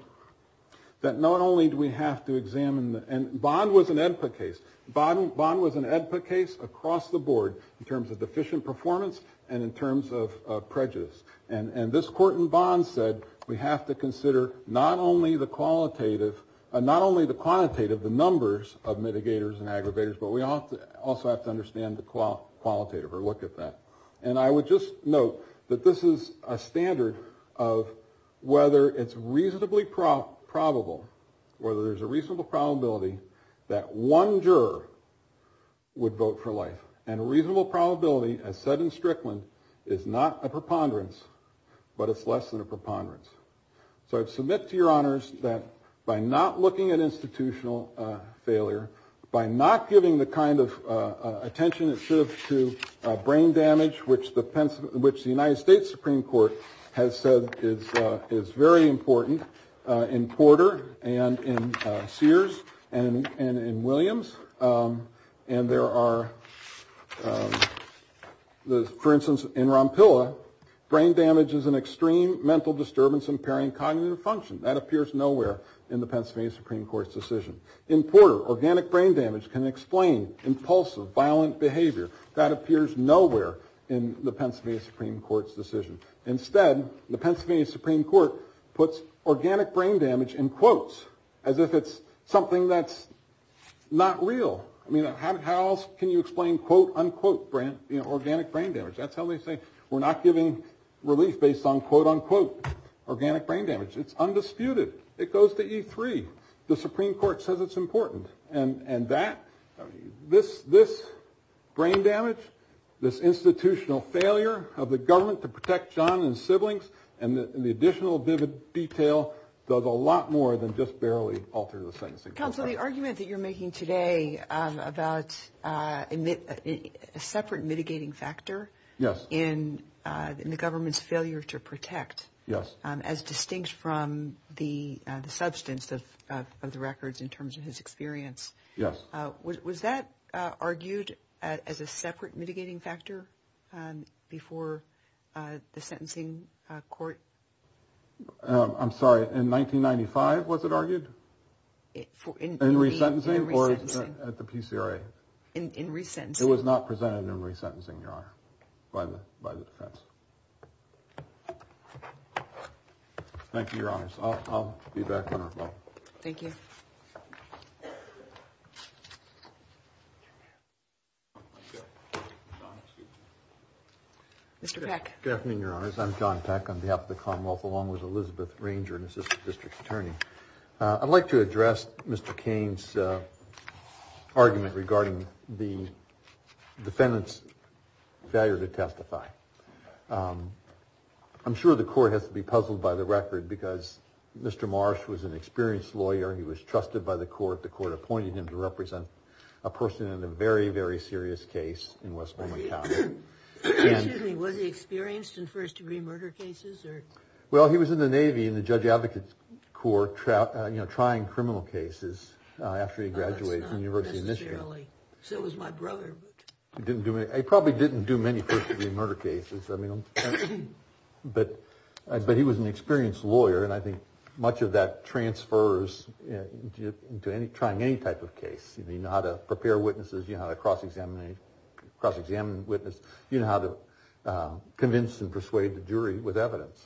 that not only do we have to examine – and Bond was an AEDPA case. Bond was an AEDPA case across the board in terms of deficient performance and in terms of prejudice. And this court in Bond said we have to consider not only the qualitative – not only the quantitative, the numbers of mitigators and aggravators, but we also have to understand the qualitative or look at that. And I would just note that this is a standard of whether it's reasonably probable, whether there's a reasonable probability that one juror would vote for life. And a reasonable probability, as said in Strickland, is not a preponderance, but it's less than a preponderance. So I submit to your honors that by not looking at institutional failure, by not giving the kind of attention it should have to brain damage, which the United States Supreme Court has said is very important in Porter and in Sears and in Williams, and there are – for instance, in Rompilla, brain damage is an extreme mental disturbance impairing cognitive function. That appears nowhere in the Pennsylvania Supreme Court's decision. In Porter, organic brain damage can explain impulsive, violent behavior. That appears nowhere in the Pennsylvania Supreme Court's decision. Instead, the Pennsylvania Supreme Court puts organic brain damage in quotes as if it's something that's not real. I mean, how can you explain, quote, unquote, organic brain damage? That's how they say we're not giving relief based on, quote, unquote, organic brain damage. It's undisputed. It goes to E3. The Supreme Court says it's important. And that – this brain damage, this institutional failure of the government to protect John and siblings, and the additional detail does a lot more than just barely alter the same thing. Counsel, the argument that you're making today about a separate mitigating factor in the government's failure to protect, as distinct from the substance of the records in terms of his experience. Yes. Was that argued as a separate mitigating factor before the sentencing court? I'm sorry. In 1995, was it argued? In resentencing? In resentencing. Or at the PCRA? In resentencing. It was not presented in resentencing, Your Honor, by the defense. Thank you, Your Honors. I'll be back on our phone. Thank you. Mr. Peck. Good afternoon, Your Honors. I'm John Peck on behalf of the Commonwealth, along with Elizabeth Ranger, an assistant district attorney. I'd like to address Mr. Cain's argument regarding the defendant's failure to testify. I'm sure the court has to be puzzled by the record, because Mr. Marsh was an experienced lawyer. He was trusted by the court. The court appointed him to represent a person in a very, very serious case in Westmoreland County. Excuse me. Was he experienced in first-degree murder cases? Well, he was in the Navy in the judge-advocate court trying criminal cases after he graduated from the University of Michigan. So was my brother. He probably didn't do many first-degree murder cases. But he was an experienced lawyer, and I think much of that transfers to trying any type of case. You know how to prepare witnesses. You know how to cross-examine a witness. You know how to convince and persuade the jury with evidence.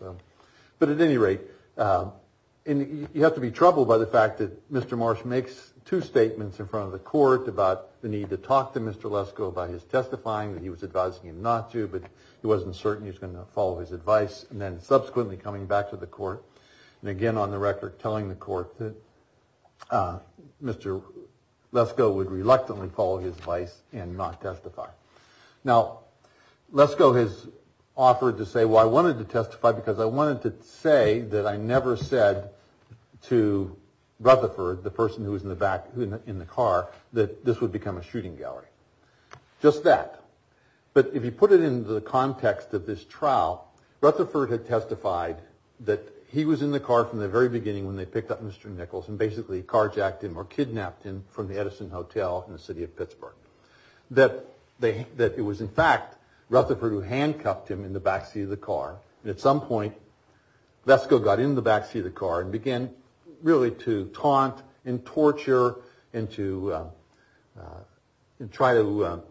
But at any rate, you have to be troubled by the fact that Mr. Marsh makes two statements in front of the court about the need to talk to Mr. Lesko by his testifying, that he was advising him not to, but he wasn't certain he was going to follow his advice, and then subsequently coming back to the court, and again on the record telling the court that Mr. Lesko would reluctantly follow his advice and not testify. Now, Lesko has offered to say, well, I wanted to testify because I wanted to say that I never said to Rutherford, the person who was in the back in the car, that this would become a shooting gallery. Just that. But if you put it into the context of this trial, Rutherford had testified that he was in the car from the very beginning when they picked up Mr. Nichols and basically carjacked him or kidnapped him from the Edison Hotel in the city of Pittsburgh. That it was, in fact, Rutherford who handcuffed him in the back seat of the car. At some point, Lesko got in the back seat of the car and began really to taunt and torture and to try to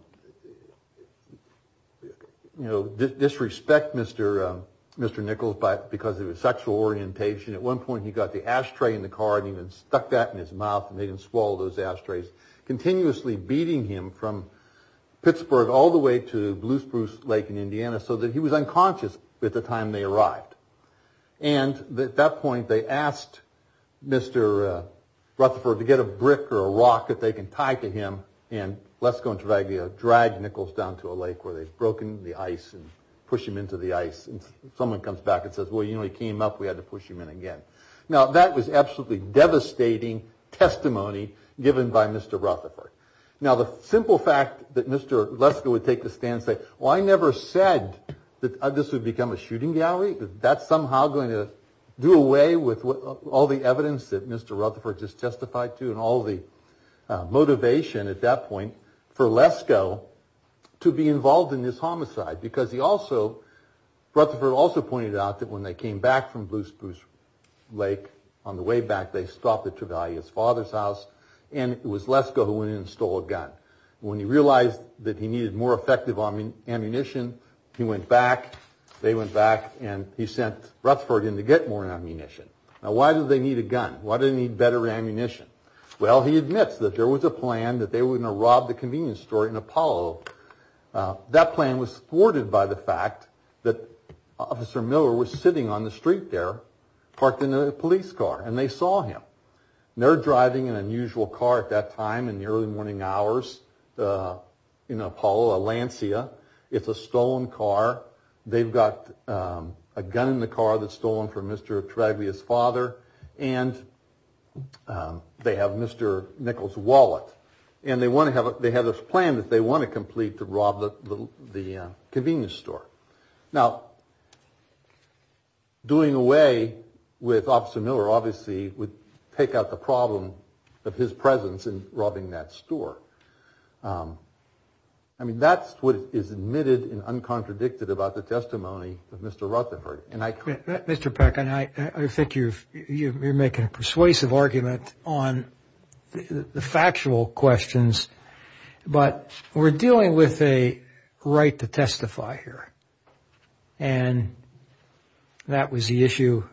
disrespect Mr. Nichols because of his sexual orientation. At one point, he got the ashtray in the car and he stuck that in his mouth and made him swallow those ashtrays, continuously beating him from Pittsburgh all the way to Blue Spruce Lake in Indiana so that he was unconscious by the time they arrived. And at that point, they asked Mr. Rutherford to get a brick or a rock that they can tie to him and Lesko and Travaglia drag Nichols down to a lake where they've broken the ice and push him into the ice. And someone comes back and says, well, you know, he came up, we had to push him in again. Now, that was absolutely devastating testimony given by Mr. Rutherford. Now, the simple fact that Mr. Lesko would take the stand and say, well, I never said that this would become a shooting gallery because that's somehow going to do away with all the evidence that Mr. Rutherford just testified to and all the motivation at that point for Lesko to be involved in this homicide because he also, Rutherford also pointed out that when they came back from Blue Spruce Lake on the way back, they stopped at Travaglia's father's house and it was Lesko who went in and stole a gun. When he realized that he needed more effective ammunition, he went back, they went back, and he sent Rutherford in to get more ammunition. Now, why do they need a gun? Why do they need better ammunition? Well, he admits that there was a plan that they were going to rob the convenience store in Apollo. That plan was thwarted by the fact that Officer Miller was sitting on the street there, parked in a police car, and they saw him. They're driving an unusual car at that time in the early morning hours in Apollo, Atlantia. It's a stolen car. They've got a gun in the car that's stolen from Mr. Travaglia's father, and they have Mr. Nichols' wallet. And they have this plan that they want to complete to rob the convenience store. Now, doing away with Officer Miller obviously would take out the problem of his presence in robbing that store. I mean, that's what is admitted and uncontradicted about the testimony of Mr. Rutherford. Mr. Peck, I think you're making a persuasive argument on the factual questions, but we're dealing with a right to testify here, and that was the issue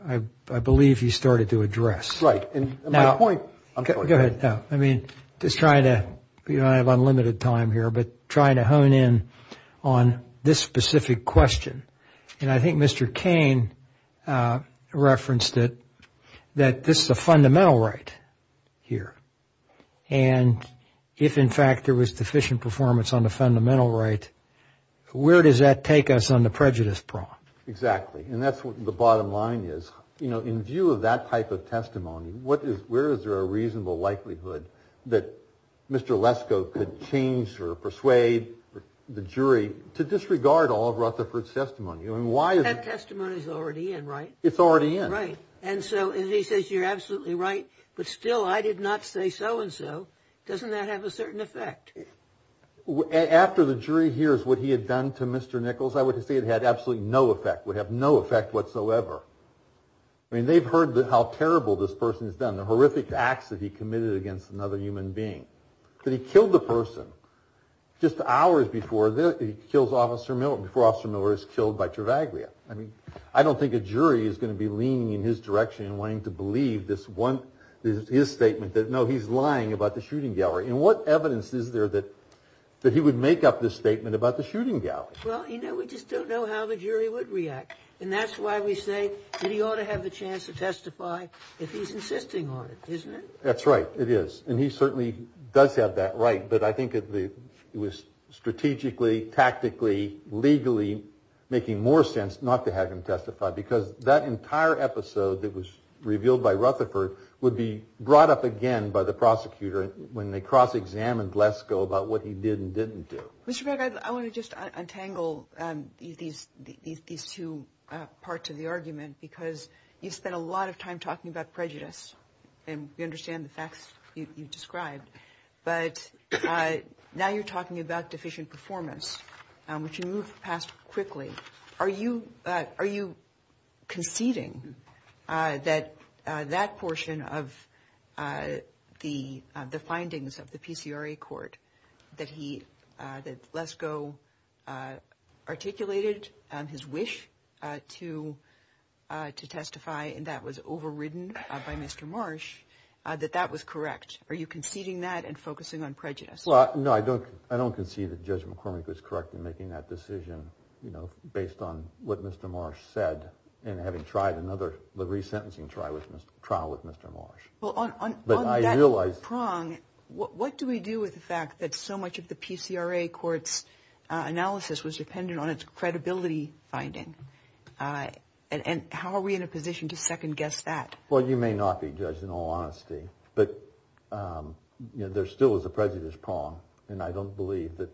I believe you started to address. Right. Go ahead. I mean, just trying to – we don't have unlimited time here, but trying to hone in on this specific question. And I think Mr. Cain referenced it, that this is a fundamental right here. And if, in fact, there was deficient performance on the fundamental right, where does that take us on the prejudice problem? Exactly, and that's what the bottom line is. In view of that type of testimony, where is there a reasonable likelihood that Mr. Lesko could change or persuade the jury to disregard all of Rutherford's testimony? That testimony is already in, right? It's already in. Right, and so he says you're absolutely right, but still I did not say so-and-so. Doesn't that have a certain effect? After the jury hears what he had done to Mr. Nichols, I would say it had absolutely no effect. It would have no effect whatsoever. I mean, they've heard how terrible this person has done, the horrific acts that he committed against another human being. He killed the person just hours before this. He kills Officer Miller before Officer Miller is killed by Travaglia. I mean, I don't think a jury is going to be leaning in his direction and wanting to believe this one – his statement that, no, he's lying about the shooting gallery. And what evidence is there that he would make up this statement about the shooting gallery? Well, you know, we just don't know how the jury would react. And that's why we say that he ought to have the chance to testify if he's insisting on it, isn't it? That's right, it is. And he certainly does have that right. But I think it was strategically, tactically, legally making more sense not to have him testify because that entire episode that was revealed by Rutherford would be brought up again by the prosecutor when they cross-examined Lesko about what he did and didn't do. Mr. Craig, I want to just untangle these two parts of the argument because you've spent a lot of time talking about prejudice, and we understand the facts you've described. But now you're talking about deficient performance, which you moved past quickly. Are you conceding that that portion of the findings of the PCRA court that Lesko articulated his wish to testify and that was overridden by Mr. Marsh, that that was correct? Are you conceding that and focusing on prejudice? Well, no, I don't concede that Judge McCormick was correct in making that decision based on what Mr. Marsh said and having tried another resentencing trial with Mr. Marsh. Well, on that prong, what do we do with the fact that so much of the PCRA court's analysis was dependent on its credibility finding? And how are we in a position to second-guess that? Well, you may not be a judge in all honesty, but there still is a prejudice prong, and I don't believe that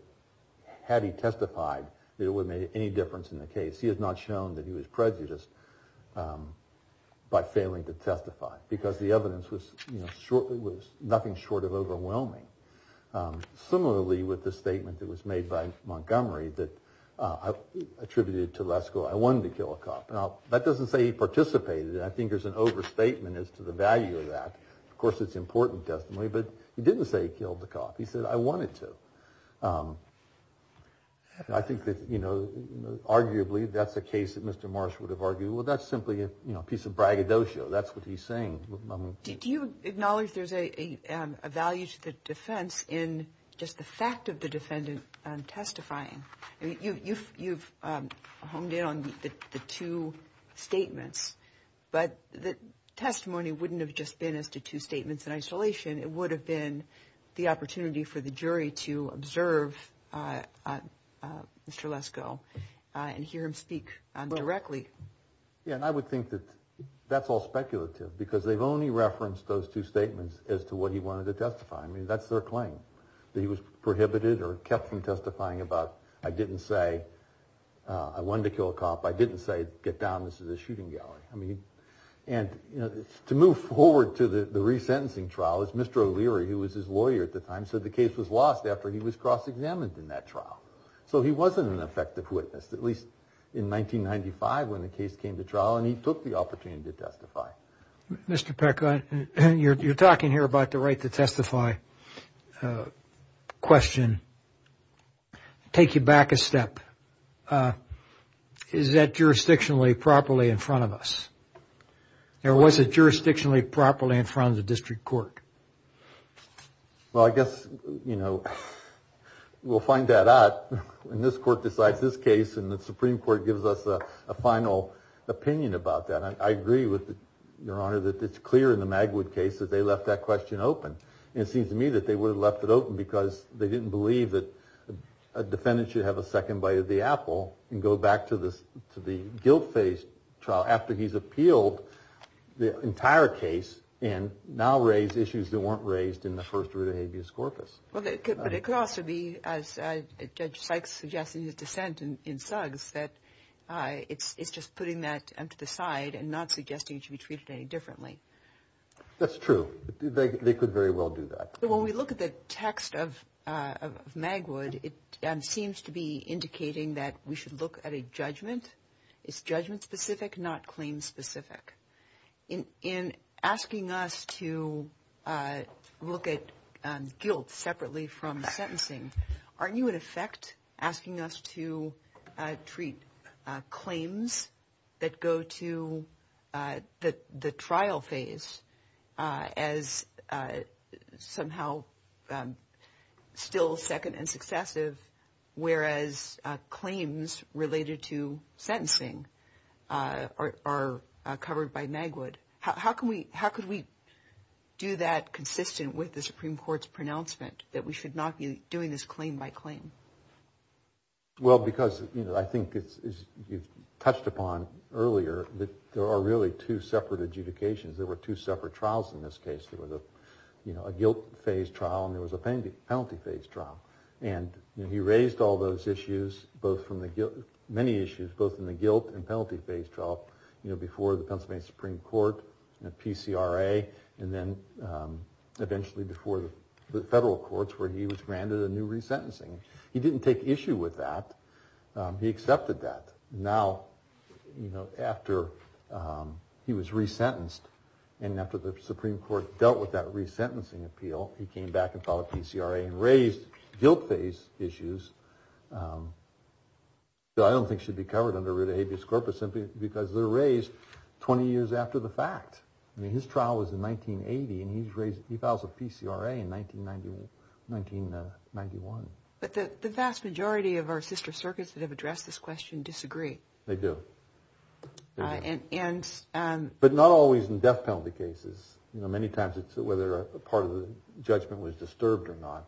had he testified, it would have made any difference in the case. He has not shown that he was prejudiced by failing to testify because the evidence was nothing short of overwhelming. Similarly with the statement that was made by Montgomery that attributed to Lesko, I wanted to kill a cop. Now, that doesn't say he participated. I think there's an overstatement as to the value of that. Of course, it's important testimony, but he didn't say he killed the cop. He said, I wanted to. I think that arguably that's a case that Mr. Marsh would have argued, well, that's simply a piece of braggadocio. That's what he's saying. Do you acknowledge there's a value to the defense in just the fact of the defendant testifying? You've honed in on the two statements, but the testimony wouldn't have just been as to two statements in isolation. It would have been the opportunity for the jury to observe Mr. Lesko and hear him speak directly. Yeah, and I would think that that's all speculative because they've only referenced those two statements as to what he wanted to testify. I mean, that's their claim, that he was prohibited or kept from testifying about, I didn't say I wanted to kill a cop. I didn't say get down, this is a shooting gallery. And to move forward to the resentencing trial is Mr. O'Leary, who was his lawyer at the time, said the case was lost after he was cross-examined in that trial. So he wasn't an effective witness, at least in 1995 when the case came to trial, and he took the opportunity to testify. Mr. Peck, you're talking here about the right to testify question. Take you back a step. Is that jurisdictionally properly in front of us? Or was it jurisdictionally properly in front of the district court? Well, I guess, you know, we'll find that out when this court decides this case and the Supreme Court gives us a final opinion about that. And I agree with Your Honor that it's clear in the Magwood case that they left that question open. And it seems to me that they would have left it open because they didn't believe that a defendant should have a second bite of the apple and go back to the guilt-based trial after he's appealed the entire case and now raise issues that weren't raised in the first route of habeas corpus. But it could also be, as Judge Sykes suggested in the dissent in Suggs, that it's just putting that to the side and not suggesting it should be treated any differently. That's true. They could very well do that. When we look at the text of Magwood, it seems to be indicating that we should look at a judgment. It's judgment-specific, not claim-specific. In asking us to look at guilt separately from sentencing, aren't you, in effect, asking us to treat claims that go to the trial phase as somehow still second and successive, whereas claims related to sentencing are covered by Magwood? How could we do that consistent with the Supreme Court's pronouncement that we should not be doing this claim by claim? Well, because I think you touched upon earlier that there are really two separate adjudications. There were two separate trials in this case. There was a guilt-phase trial and there was a penalty-phase trial. And he raised all those issues, many issues, both in the guilt and penalty-phase trial before the Pennsylvania Supreme Court and the PCRA and then eventually before the federal courts where he was granted a new resentencing. He didn't take issue with that. He accepted that. Now, you know, after he was resentenced and after the Supreme Court dealt with that resentencing appeal, he came back and filed a PCRA and raised guilt-phase issues that I don't think should be covered under Rita Habeas Corpus simply because they're raised 20 years after the fact. I mean, his trial was in 1980 and he filed a PCRA in 1991. But the vast majority of our sister circuits that have addressed this question disagree. They do. But not always in death penalty cases. You know, many times it's whether a part of the judgment was disturbed or not.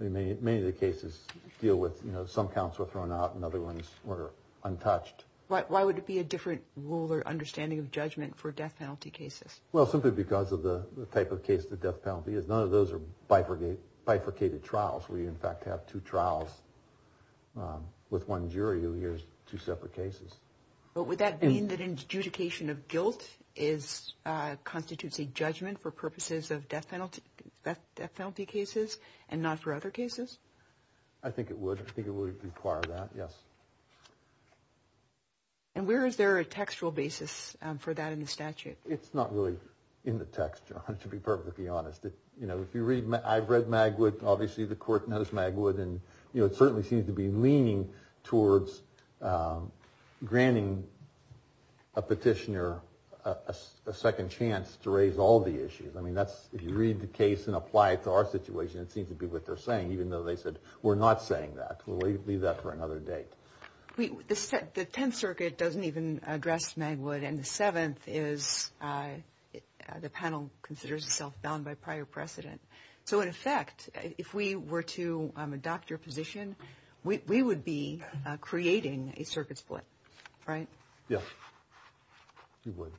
I mean, many of the cases deal with, you know, some counts were thrown out and other ones were untouched. Why would it be a different rule or understanding of judgment for death penalty cases? Well, simply because of the type of case the death penalty is. None of those are bifurcated trials. We, in fact, have two trials with one jury who hears two separate cases. But would that mean that adjudication of guilt constitutes a judgment for purposes of death penalty cases and not for other cases? I think it would. I think it would require that, yes. And where is there a textual basis for that in the statute? It's not really in the text, John, to be perfectly honest. You know, I've read Magwood. Obviously, the court knows Magwood. And, you know, it certainly seems to be leaning towards granting a petitioner a second chance to raise all the issues. I mean, if you read the case and apply it to our situation, it seems to be what they're saying, even though they said we're not saying that. So we leave that for another day. The Tenth Circuit doesn't even address Magwood, and the Seventh is the panel considers itself bound by prior precedent. So, in effect, if we were to adopt your position, we would be creating a circuit split, right? Yes, we would.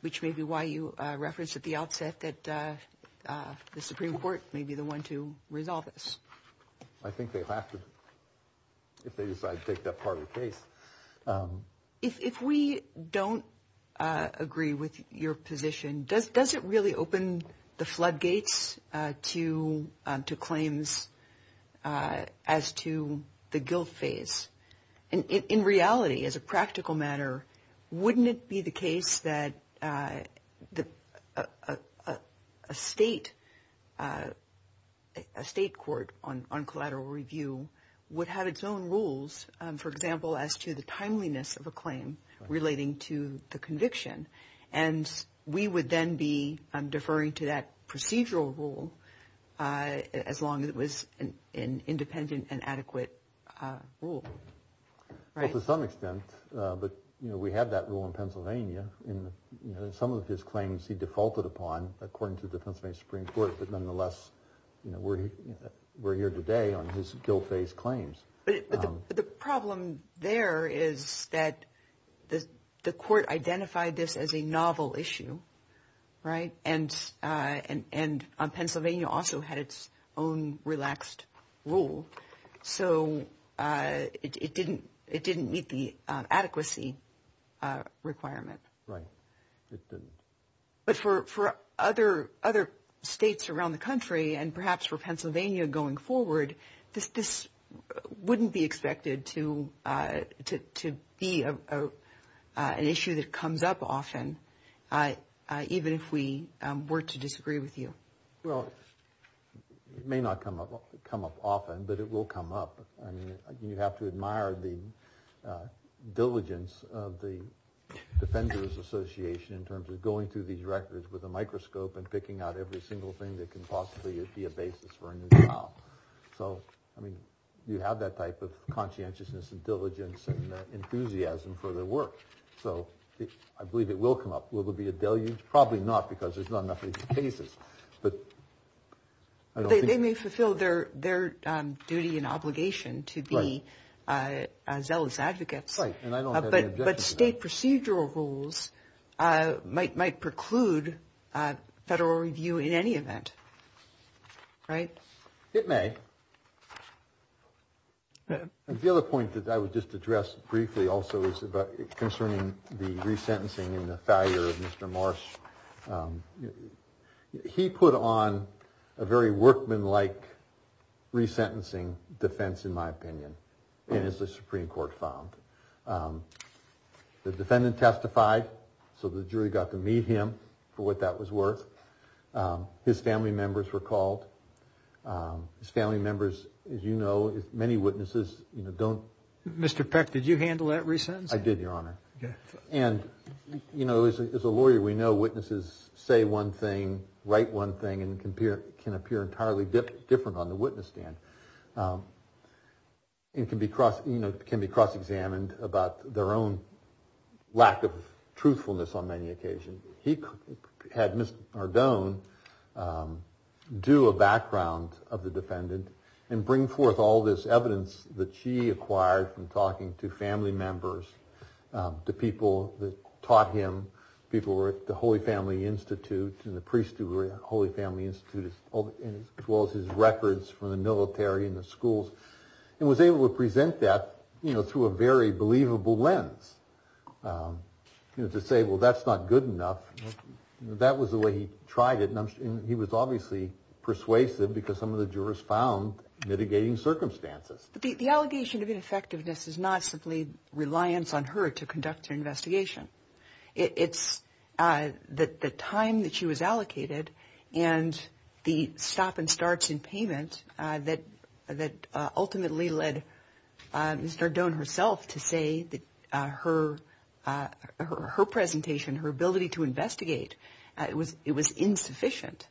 Which may be why you referenced at the outset that the Supreme Court may be the one to resolve this. I think they have to, if they decide to take that part of the case. If we don't agree with your position, does it really open the floodgates to claims as to the guilt phase? In reality, as a practical matter, wouldn't it be the case that a state court on collateral review would have its own rules, for example, as to the timeliness of a claim relating to the conviction? And we would then be deferring to that procedural rule as long as it was an independent and adequate rule, right? To some extent, but we have that rule in Pennsylvania. Some of his claims he defaulted upon, according to the Pennsylvania Supreme Court, but nonetheless, we're here today on his guilt phase claims. But the problem there is that the court identified this as a novel issue, right? And Pennsylvania also had its own relaxed rule, so it didn't meet the adequacy requirement. Right. But for other states around the country, and perhaps for Pennsylvania going forward, this wouldn't be expected to be an issue that comes up often, even if we were to disagree with you. Well, it may not come up often, but it will come up. I mean, you have to admire the diligence of the Defenders Association in terms of going through these records with a microscope and picking out every single thing that can possibly be a basis for a new trial. So, I mean, you have that type of conscientiousness and diligence and enthusiasm for their work. So, I believe it will come up. Will there be a deluge? Probably not, because there's not enough of these cases. They may fulfill their duty and obligation to be zealous advocates. Right, and I don't have any objection to that. But state procedural rules might preclude federal review in any event, right? It may. The other point that I would just address briefly also is about concerning the resentencing and the failure of Mr. Marsh. He put on a very workmanlike resentencing defense, in my opinion, and it's a Supreme Court found. The defendant testified, so the jury got to meet him for what that was worth. His family members were called. His family members, as you know, many witnesses don't. Mr. Peck, did you handle that resentencing? I did, Your Honor. And, you know, as a lawyer, we know witnesses say one thing, write one thing, and can appear entirely different on the witness stand and can be cross-examined about their own lack of truthfulness on many occasions. He had Mr. Ardon do a background of the defendant and bring forth all this evidence that he acquired from talking to family members, to people that taught him, people who were at the Holy Family Institute and the priest who were at the Holy Family Institute, as well as his records from the military and the schools, and was able to present that, you know, through a very believable lens. You know, to say, well, that's not good enough. That was the way he tried it, and he was obviously persuasive because some of the jurors found mitigating circumstances. The allegation of ineffectiveness is not simply reliance on her to conduct an investigation. It's the time that she was allocated and the stop-and-starts in payment that ultimately led Mr. Ardon herself to say that her presentation, her ability to investigate, it was insufficient.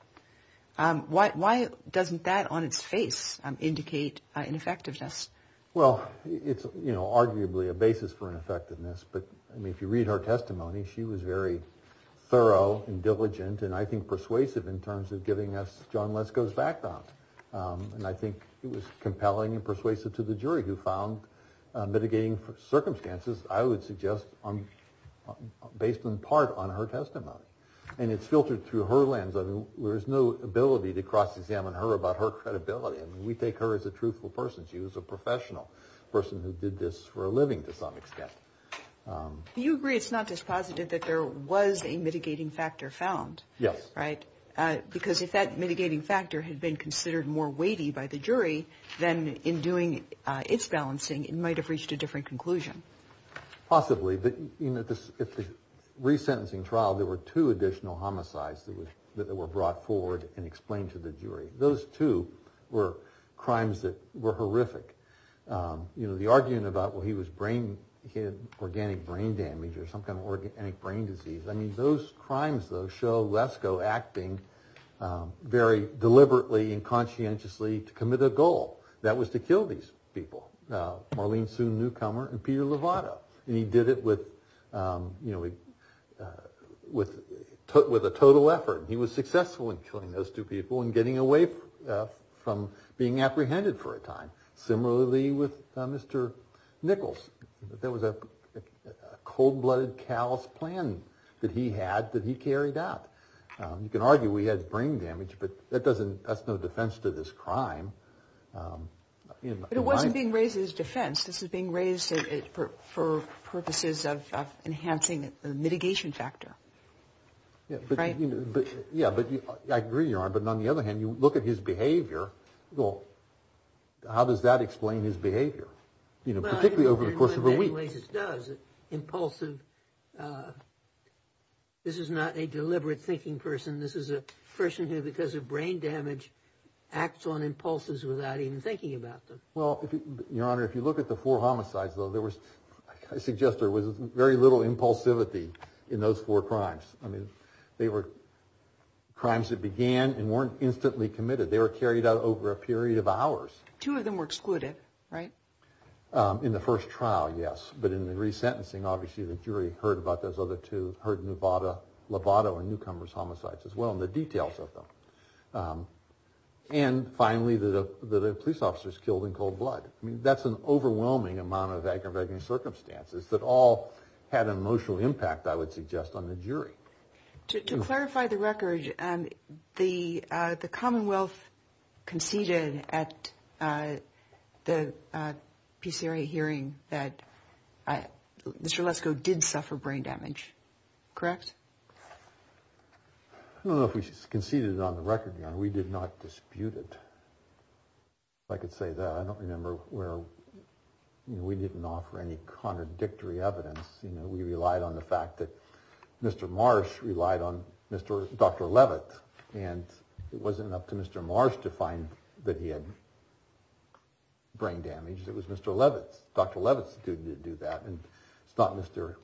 Why doesn't that on its face indicate ineffectiveness? Well, it's arguably a basis for ineffectiveness, but if you read her testimony, she was very thorough and diligent and I think persuasive in terms of giving us John Lesko's background. And I think it was compelling and persuasive to the jury who found mitigating circumstances, I would suggest, based in part on her testimony. And it's filtered through her lens. There is no ability to cross-examine her about her credibility. We take her as a truthful person. She was a professional person who did this for a living to some extent. Do you agree it's not just positive that there was a mitigating factor found? Yes. Because if that mitigating factor had been considered more weighty by the jury, then in doing its balancing, it might have reached a different conclusion. Possibly. In the resentencing trial, there were two additional homicides that were brought forward and explained to the jury. Those two were crimes that were horrific. The argument about, well, he had organic brain damage or some kind of organic brain disease. I mean, those crimes, though, show Lesko acting very deliberately and conscientiously to commit a goal. That was to kill these people. Marlene Soon, newcomer, and Peter Lovato. And he did it with a total effort. He was successful in killing those two people and getting away from being apprehended for a time. Similarly with Mr. Nichols. There was a cold-blooded, callous plan that he had that he carried out. You can argue we had brain damage, but that's no defense to this crime. But it wasn't being raised as defense. This was being raised for purposes of enhancing the mitigation factor. Yeah, but I agree, Your Honor. But on the other hand, you look at his behavior. Well, how does that explain his behavior, particularly over the course of a week? Impulsive. This is not a deliberate thinking person. This is a person who, because of brain damage, acts on impulses without even thinking about them. Well, Your Honor, if you look at the four homicides, though, I suggest there was very little impulsivity in those four crimes. I mean, they were crimes that began and weren't instantly committed. They were carried out over a period of hours. Two of them were excluded, right? In the first trial, yes, but in the resentencing, obviously, the jury heard about those other two, heard Lovato and newcomer's homicides as well and the details of them. And finally, the police officers killed in cold blood. That's an overwhelming amount of aggravating circumstances that all had an emotional impact, I would suggest, on the jury. To clarify the record, the Commonwealth conceded at the PCRA hearing that Mr. Lesko did suffer brain damage, correct? I don't know if we conceded on the record, Your Honor. We did not dispute it. If I could say that, I don't remember where we didn't offer any contradictory evidence. We relied on the fact that Mr. Marsh relied on Dr. Levitt and it wasn't up to Mr. Marsh to find that he had brain damage. It was Mr. Levitt, Dr. Levitt's duty to do that. And it's not Mr.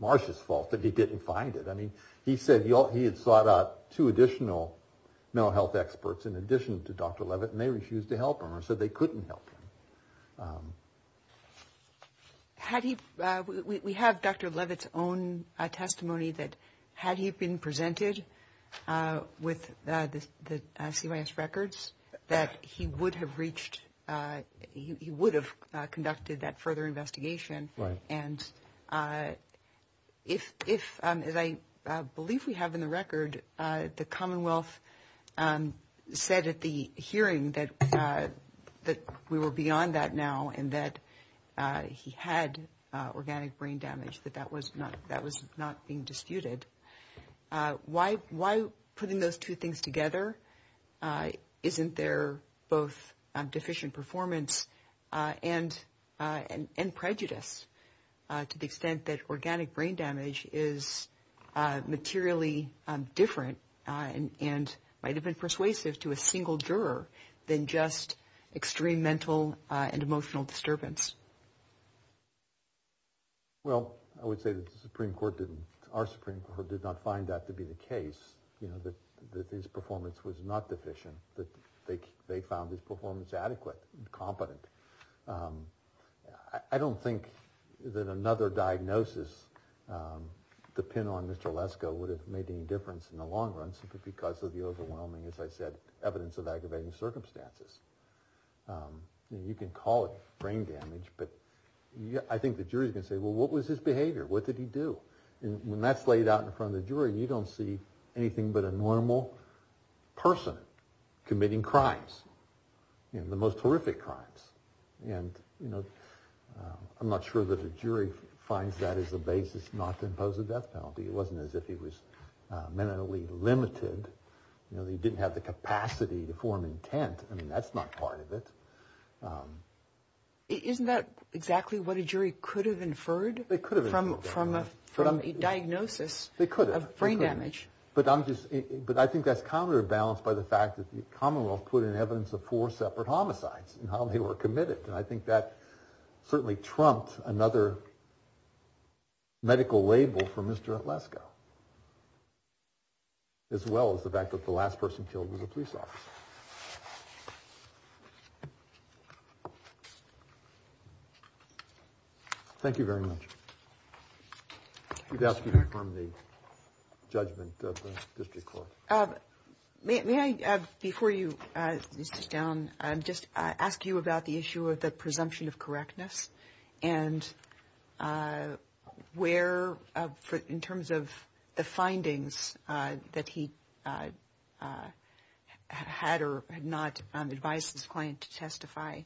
Marsh's fault that he didn't find it. I mean, he said he had sought out two additional mental health experts in addition to Dr. Levitt and they refused to help him. So they couldn't help him. We have Dr. Levitt's own testimony that had he been presented with the CYS records, that he would have reached, he would have conducted that further investigation. Right. And if, as I believe we have in the record, the Commonwealth said at the hearing that we were beyond that now and that he had organic brain damage, that that was not being disputed, why putting those two things together isn't there both deficient performance and prejudice to the extent that organic brain damage is materially different and might have been persuasive to a single juror than just extreme mental and emotional disturbance? Well, I would say that the Supreme Court didn't, our Supreme Court did not find that to be the case, that his performance was not deficient, that they found his performance adequate and competent. I don't think that another diagnosis, the pin on Mr. Lesko would have made any difference in the long run simply because of the overwhelming, as I said, evidence of aggravating circumstances. You can call it brain damage, but I think the jury's going to say, well, what was his behavior? What did he do? And when that's laid out in front of the jury, you don't see anything but a normal person committing crimes, the most horrific crimes. And I'm not sure that a jury finds that as a basis not to impose a death penalty. It wasn't as if he was mentally limited, he didn't have the capacity to form intent. I mean, that's not part of it. Isn't that exactly what a jury could have inferred from a diagnosis of brain damage? But I think that's counterbalanced by the fact that the Commonwealth put in evidence the four separate homicides and how they were committed, and I think that certainly trumped another medical label for Mr. Lesko as well as the fact that the last person killed was a police officer. Thank you very much. You've asked me to confirm the judgment of the district court. May I, before you leave us down, just ask you about the issue of the presumption of correctness and where, in terms of the findings that he had or had not advised his client to testify,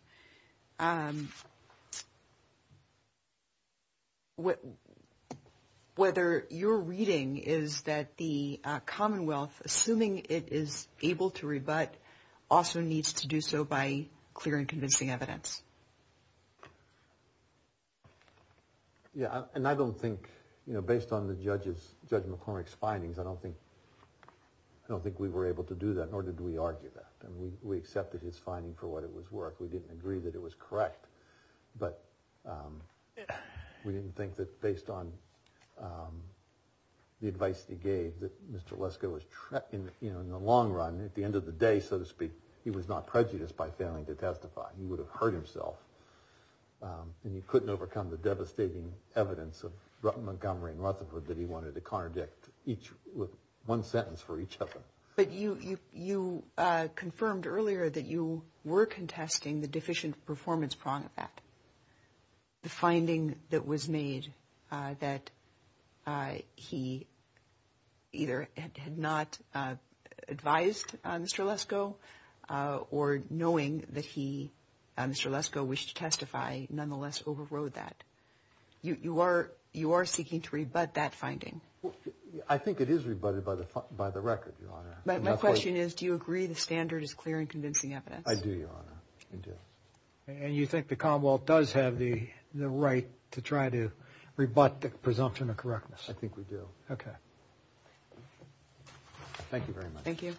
whether your reading is that the Commonwealth, assuming it is able to rebut, also needs to do so by clearing convincing evidence? Yeah, and I don't think, based on Judge McCormick's findings, I don't think we were able to do that, nor did we argue that. We accepted his finding for what it was worth. We didn't agree that it was correct, but we didn't think that based on the advice he gave, that Mr. Lesko was trapped in the long run. At the end of the day, so to speak, he was not prejudiced by failing to testify. He would have hurt himself, and he couldn't overcome the devastating evidence of Montgomery and Rutherford that he wanted to contradict with one sentence for each other. But you confirmed earlier that you were contesting the Deficient Performance Prong Effect, the finding that was made that he either had not advised Mr. Lesko or, knowing that Mr. Lesko wished to testify, nonetheless overrode that. You are seeking to rebut that finding? I think it is rebutted by the record, Your Honor. My question is, do you agree the standard is clear in convincing evidence? I do, Your Honor. I do. And you think the Commonwealth does have the right to try to rebut the presumption of correctness? I think we do. Okay. Thank you very much. Thank you.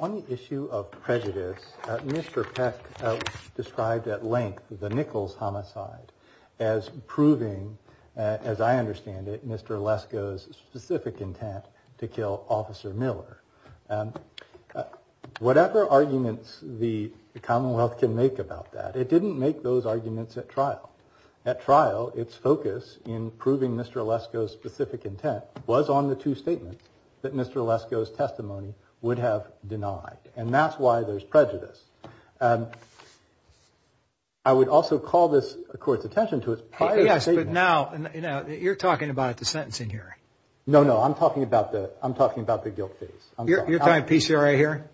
On the issue of prejudice, Mr. Peck described at length the Nichols homicide as proving, as I understand it, Mr. Lesko's specific intent to kill Officer Miller. Whatever arguments the Commonwealth can make about that, it didn't make those arguments at trial. At trial, its focus in proving Mr. Lesko's specific intent was on the two statements that Mr. Lesko's testimony would have denied. And that's why there's prejudice. I would also call this, of course, attention to its prior statement. Yes, but now you're talking about the sentence in here. No, no. I'm talking about the guilt case. You're talking about PCRA here?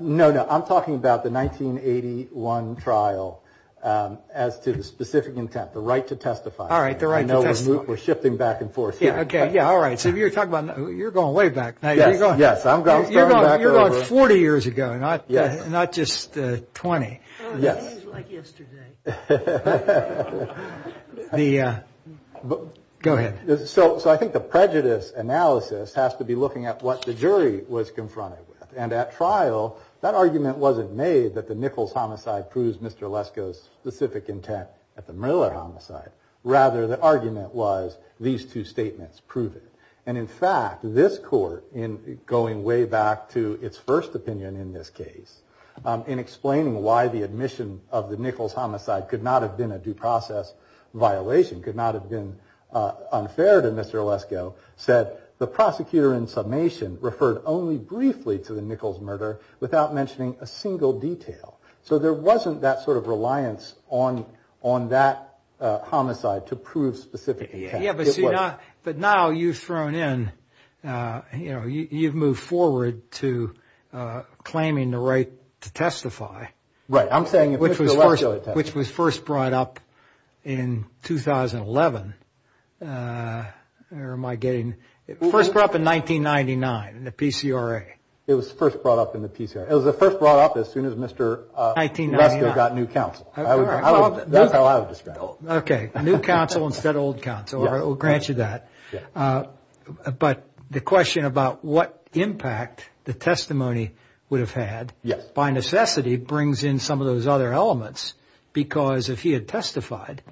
No, no. I'm talking about the 1981 trial as to the specific intent, the right to testify. All right, the right to testify. I know we're shifting back and forth. Yeah, okay. Yeah, all right. So you're going way back. Yes, I'm going way back. You're going 40 years ago, not just 20. It's like yesterday. Go ahead. So I think the prejudice analysis has to be looking at what the jury was confronted with. And at trial, that argument wasn't made that the Nichols homicide proves Mr. Lesko's specific intent at the Miller homicide. Rather, the argument was these two statements prove it. And in fact, this court, going way back to its first opinion in this case, in explaining why the admission of the Nichols homicide could not have been a due process violation, could not have been unfair to Mr. Lesko, said the prosecutor in summation referred only briefly to the Nichols murder without mentioning a single detail. So there wasn't that sort of reliance on that homicide to prove specific intent. Yeah, but now you've thrown in, you know, you've moved forward to claiming the right to testify. Right. Which was first brought up in 2011. Where am I getting? First brought up in 1999 in the PCRA. It was first brought up in the PCRA. It was first brought up as soon as Mr. Lesko got new counsel. That's how I would describe it. OK. New counsel instead of old counsel. We'll grant you that. But the question about what impact the testimony would have had by necessity brings in some of those other elements. Because if he had testified,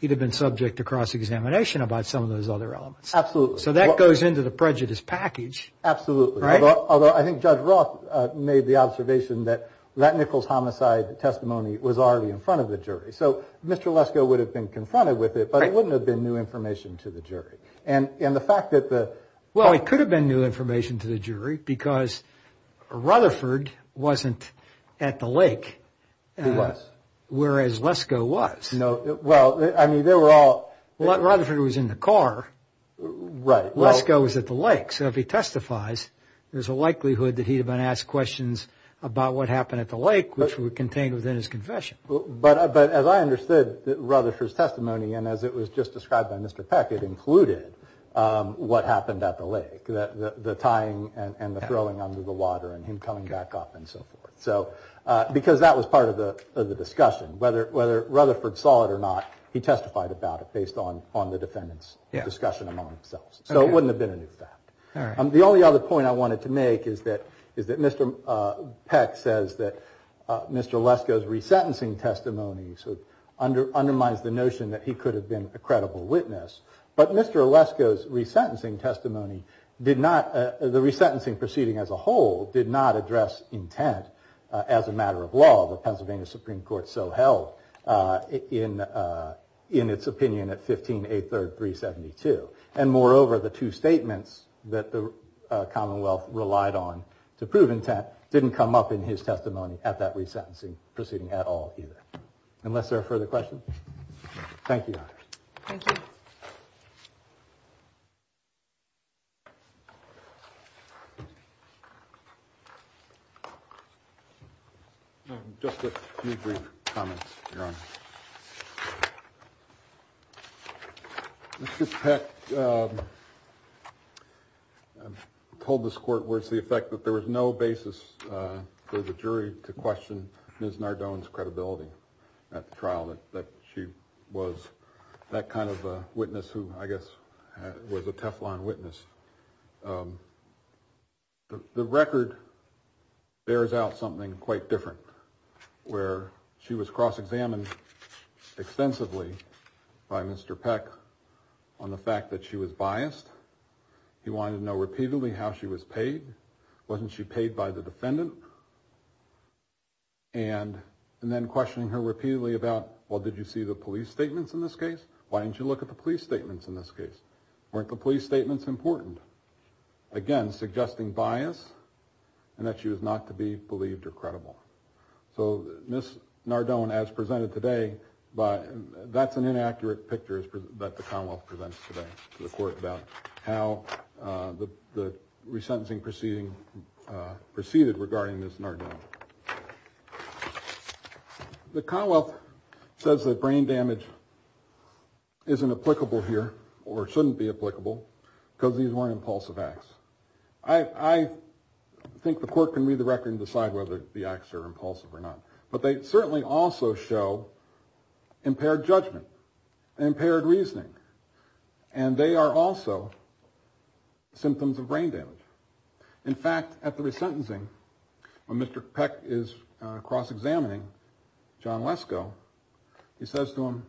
he'd have been subject to cross-examination about some of those other elements. Absolutely. So that goes into the prejudice package. Absolutely. Although I think Judge Roth made the observation that that Nichols homicide testimony was already in front of the jury. So Mr. Lesko would have been confronted with it, but it wouldn't have been new information to the jury. And the fact that the – Well, it could have been new information to the jury because Rutherford wasn't at the lake. He was. Whereas Lesko was. Well, I mean, they were all – Rutherford was in the car. Right. Lesko was at the lake. So if he testifies, there's a likelihood that he'd have been asked questions about what happened at the lake, which were contained within his confession. But as I understood Rutherford's testimony and as it was just described by Mr. Peck, it included what happened at the lake, the tying and the throwing under the water and him coming back up and so forth. So – because that was part of the discussion. Whether Rutherford saw it or not, he testified about it based on the defendant's discussion among themselves. So it wouldn't have been a new fact. The only other point I wanted to make is that Mr. Peck says that Mr. Lesko's resentencing testimony undermines the notion that he could have been a credible witness. But Mr. Lesko's resentencing testimony did not – the resentencing proceeding as a whole did not address intent as a matter of law, the Pennsylvania Supreme Court so held in its opinion at 15-8-3-372. And moreover, the two statements that the Commonwealth relied on to prove intent didn't come up in his testimony at that resentencing proceeding at all either. Unless there are further questions? Thank you. Thank you. Mr. Peck told this court words to the effect that there was no basis for the jury to question Ms. Nardone's credibility at the trial that she was that kind of a witness who I guess was a Teflon witness. The record bears out something quite different where she was cross-examined extensively by Mr. Peck on the fact that she was biased. He wanted to know repeatedly how she was paid. Wasn't she paid by the defendant? And then questioning her repeatedly about, well, did you see the police statements in this case? Why didn't you look at the police statements in this case? Weren't the police statements important? Again, suggesting bias and that she was not to be believed or credible. So Ms. Nardone, as presented today, that's an inaccurate picture that the Commonwealth presents to the court about how the resentencing proceeding proceeded regarding Ms. Nardone. The Commonwealth says that brain damage isn't applicable here or shouldn't be applicable because these weren't impulsive acts. I think the court can read the record and decide whether the acts are impulsive or not. But they certainly also show impaired judgment and impaired reasoning. And they are also symptoms of brain damage. In fact, after the sentencing, when Mr. Peck is cross-examining John Wesko, he says to him,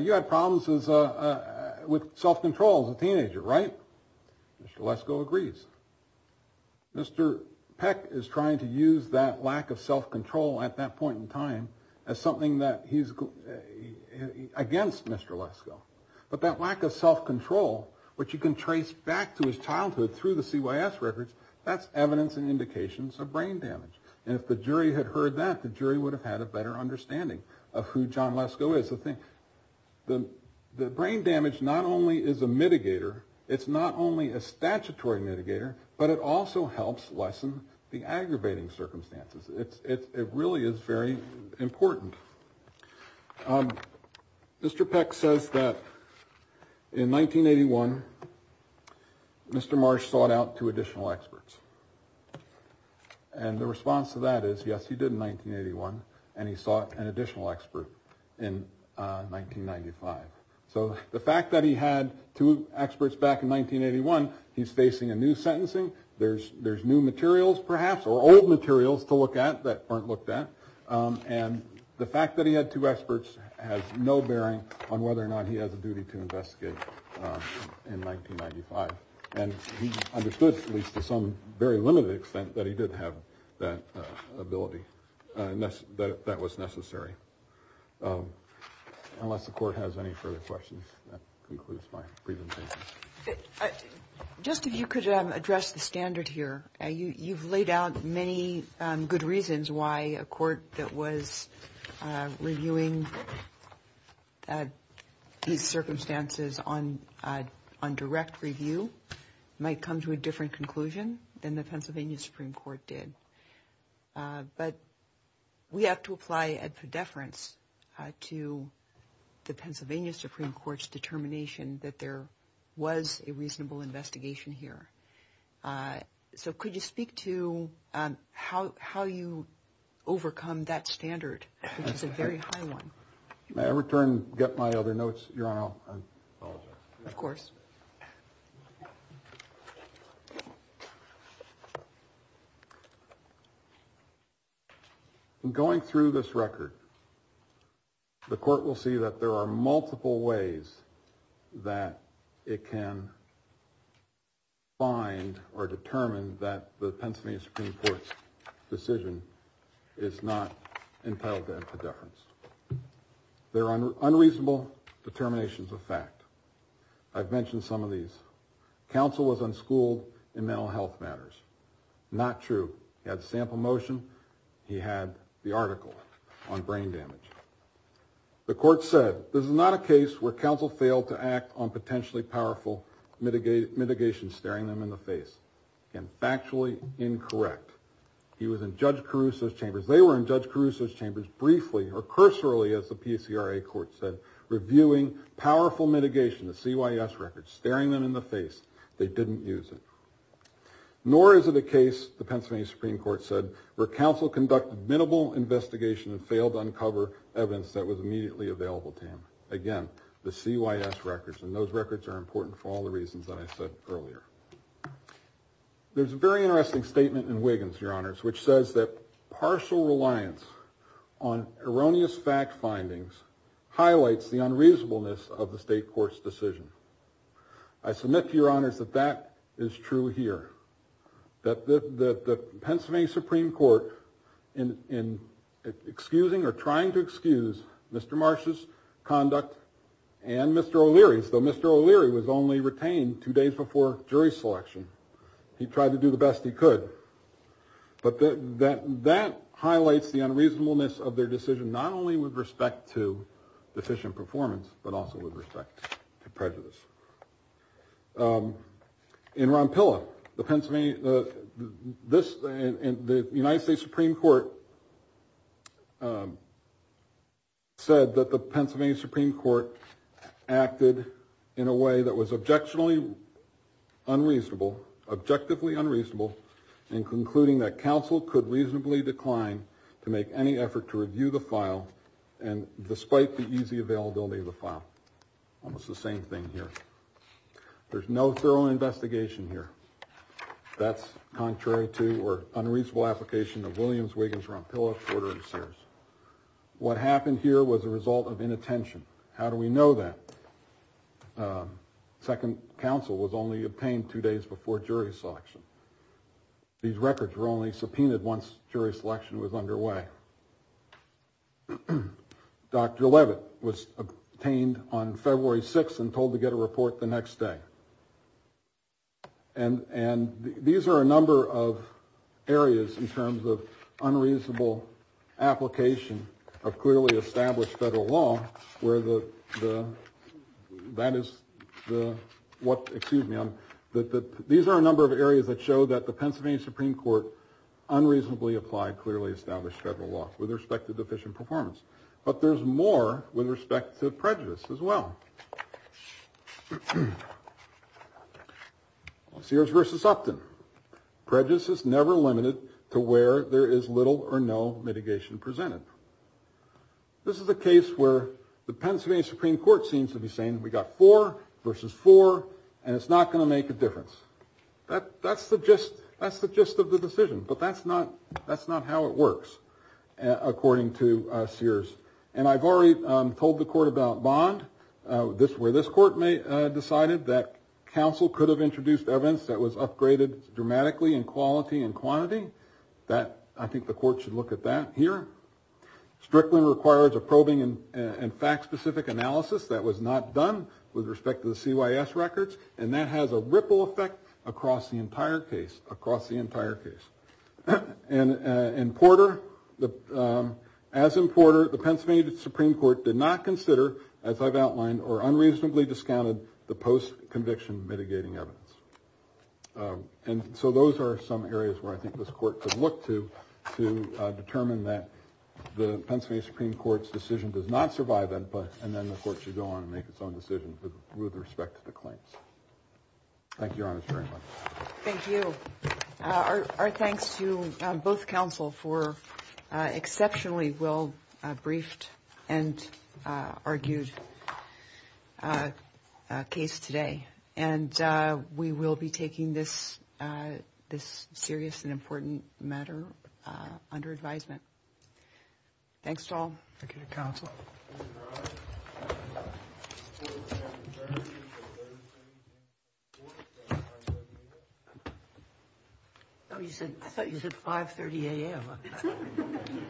You had problems with self-control as a teenager, right? Mr. Wesko agrees. Mr. Peck is trying to use that lack of self-control at that point in time as something that he's against Mr. Wesko. But that lack of self-control, which you can trace back to his childhood through the CYS records, that's evidence and indications of brain damage. And if the jury had heard that, the jury would have had a better understanding of who John Wesko is. The brain damage not only is a mitigator, it's not only a statutory mitigator, but it also helps lessen the aggravating circumstances. It really is very important. Mr. Peck says that in 1981, Mr. Marsh sought out two additional experts. And the response to that is, yes, he did in 1981, and he sought an additional expert in 1995. So the fact that he had two experts back in 1981, he's facing a new sentencing. There's new materials, perhaps, or old materials to look at that weren't looked at. And the fact that he had two experts has no bearing on whether or not he has a duty to investigate in 1995. And he understood, at least to some very limited extent, that he did have that ability, that that was necessary. Unless the court has any further questions, that concludes my presentation. Just if you could address the standard here. You've laid out many good reasons why a court that was reviewing these circumstances on direct review might come to a different conclusion than the Pennsylvania Supreme Court did. But we have to apply a deference to the Pennsylvania Supreme Court's determination that there was a reasonable investigation here. So could you speak to how you overcome that standard, which is a very high one? May I return to get my other notes, Your Honor? I apologize. Of course. Going through this record, the court will see that there are multiple ways that it can find or determine that the Pennsylvania Supreme Court's decision is not entitled to a deference. There are unreasonable determinations of fact. I've mentioned some of these. Counsel was unschooled in mental health matters. Not true. He had sample motion. He had the article on brain damage. The court said, this is not a case where counsel failed to act on potentially powerful mitigation, staring them in the face. And factually incorrect. He was in Judge Caruso's chambers. They were in Judge Caruso's chambers briefly, recursively, as the PCRA court said, reviewing powerful mitigation, the CYS records, staring them in the face. They didn't use it. Nor is it a case, the Pennsylvania Supreme Court said, where counsel conducted minimal investigation and failed to uncover evidence that was immediately available to him. Again, the CYS records. And those records are important for all the reasons that I said earlier. There's a very interesting statement in Wiggins, Your Honors, which says that partial reliance on erroneous fact findings highlights the unreasonableness of the state court's decision. I submit to Your Honors that that is true here. That the Pennsylvania Supreme Court, in excusing or trying to excuse Mr. Marsh's conduct and Mr. O'Leary's, though Mr. O'Leary was only retained two days before jury selection, he tried to do the best he could. But that highlights the unreasonableness of their decision, not only with respect to efficient performance, but also with respect to prejudice. In Ronpilla, the United States Supreme Court said that the Pennsylvania Supreme Court acted in a way that was objectively unreasonable in concluding that counsel could reasonably decline to make any effort to review the file, despite the easy availability of the file. Almost the same thing here. There's no thorough investigation here. That's contrary to or unreasonable application of Williams, Wiggins, Ronpilla, Porter, and Sears. What happened here was a result of inattention. How do we know that? Second counsel was only obtained two days before jury selection. These records were only subpoenaed once jury selection was underway. Dr. Leavitt was obtained on February 6th and told to get a report the next day. These are a number of areas in terms of unreasonable application of clearly established federal law. These are a number of areas that show that the Pennsylvania Supreme Court unreasonably applied clearly established federal law with respect to deficient performance. But there's more with respect to prejudice as well. Sears versus Upton. Prejudice is never limited to where there is little or no mitigation presented. This is a case where the Pennsylvania Supreme Court seems to be saying we got four versus four, and it's not going to make a difference. That's the gist of the decision, but that's not how it works, according to Sears. And I've already told the court about Bond, where this court decided that counsel could have introduced evidence that was upgraded dramatically in quality and quantity. I think the court should look at that here. Strictly requires a probing and fact-specific analysis that was not done with respect to the CYS records, and that has a ripple effect across the entire case. And Porter, as in Porter, the Pennsylvania Supreme Court did not consider, as I've outlined, or unreasonably discounted the post-conviction mitigating evidence. And so those are some areas where I think this court could look to to determine that the Pennsylvania Supreme Court's decision does not survive, and then the court should go on and make its own decision with respect to the claims. Thank you, Your Honor, very much. Thank you. Our thanks to both counsel for an exceptionally well-briefed and argued case today, and we will be taking this serious and important matter under advisement. Thanks, all. Thank you, counsel. I thought you said 530 AM. Thank you. Thank you.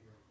Thank you. Thank you. Thank you. I think you're live. We're live. Thank you. Thank you. Thank you. Thank you.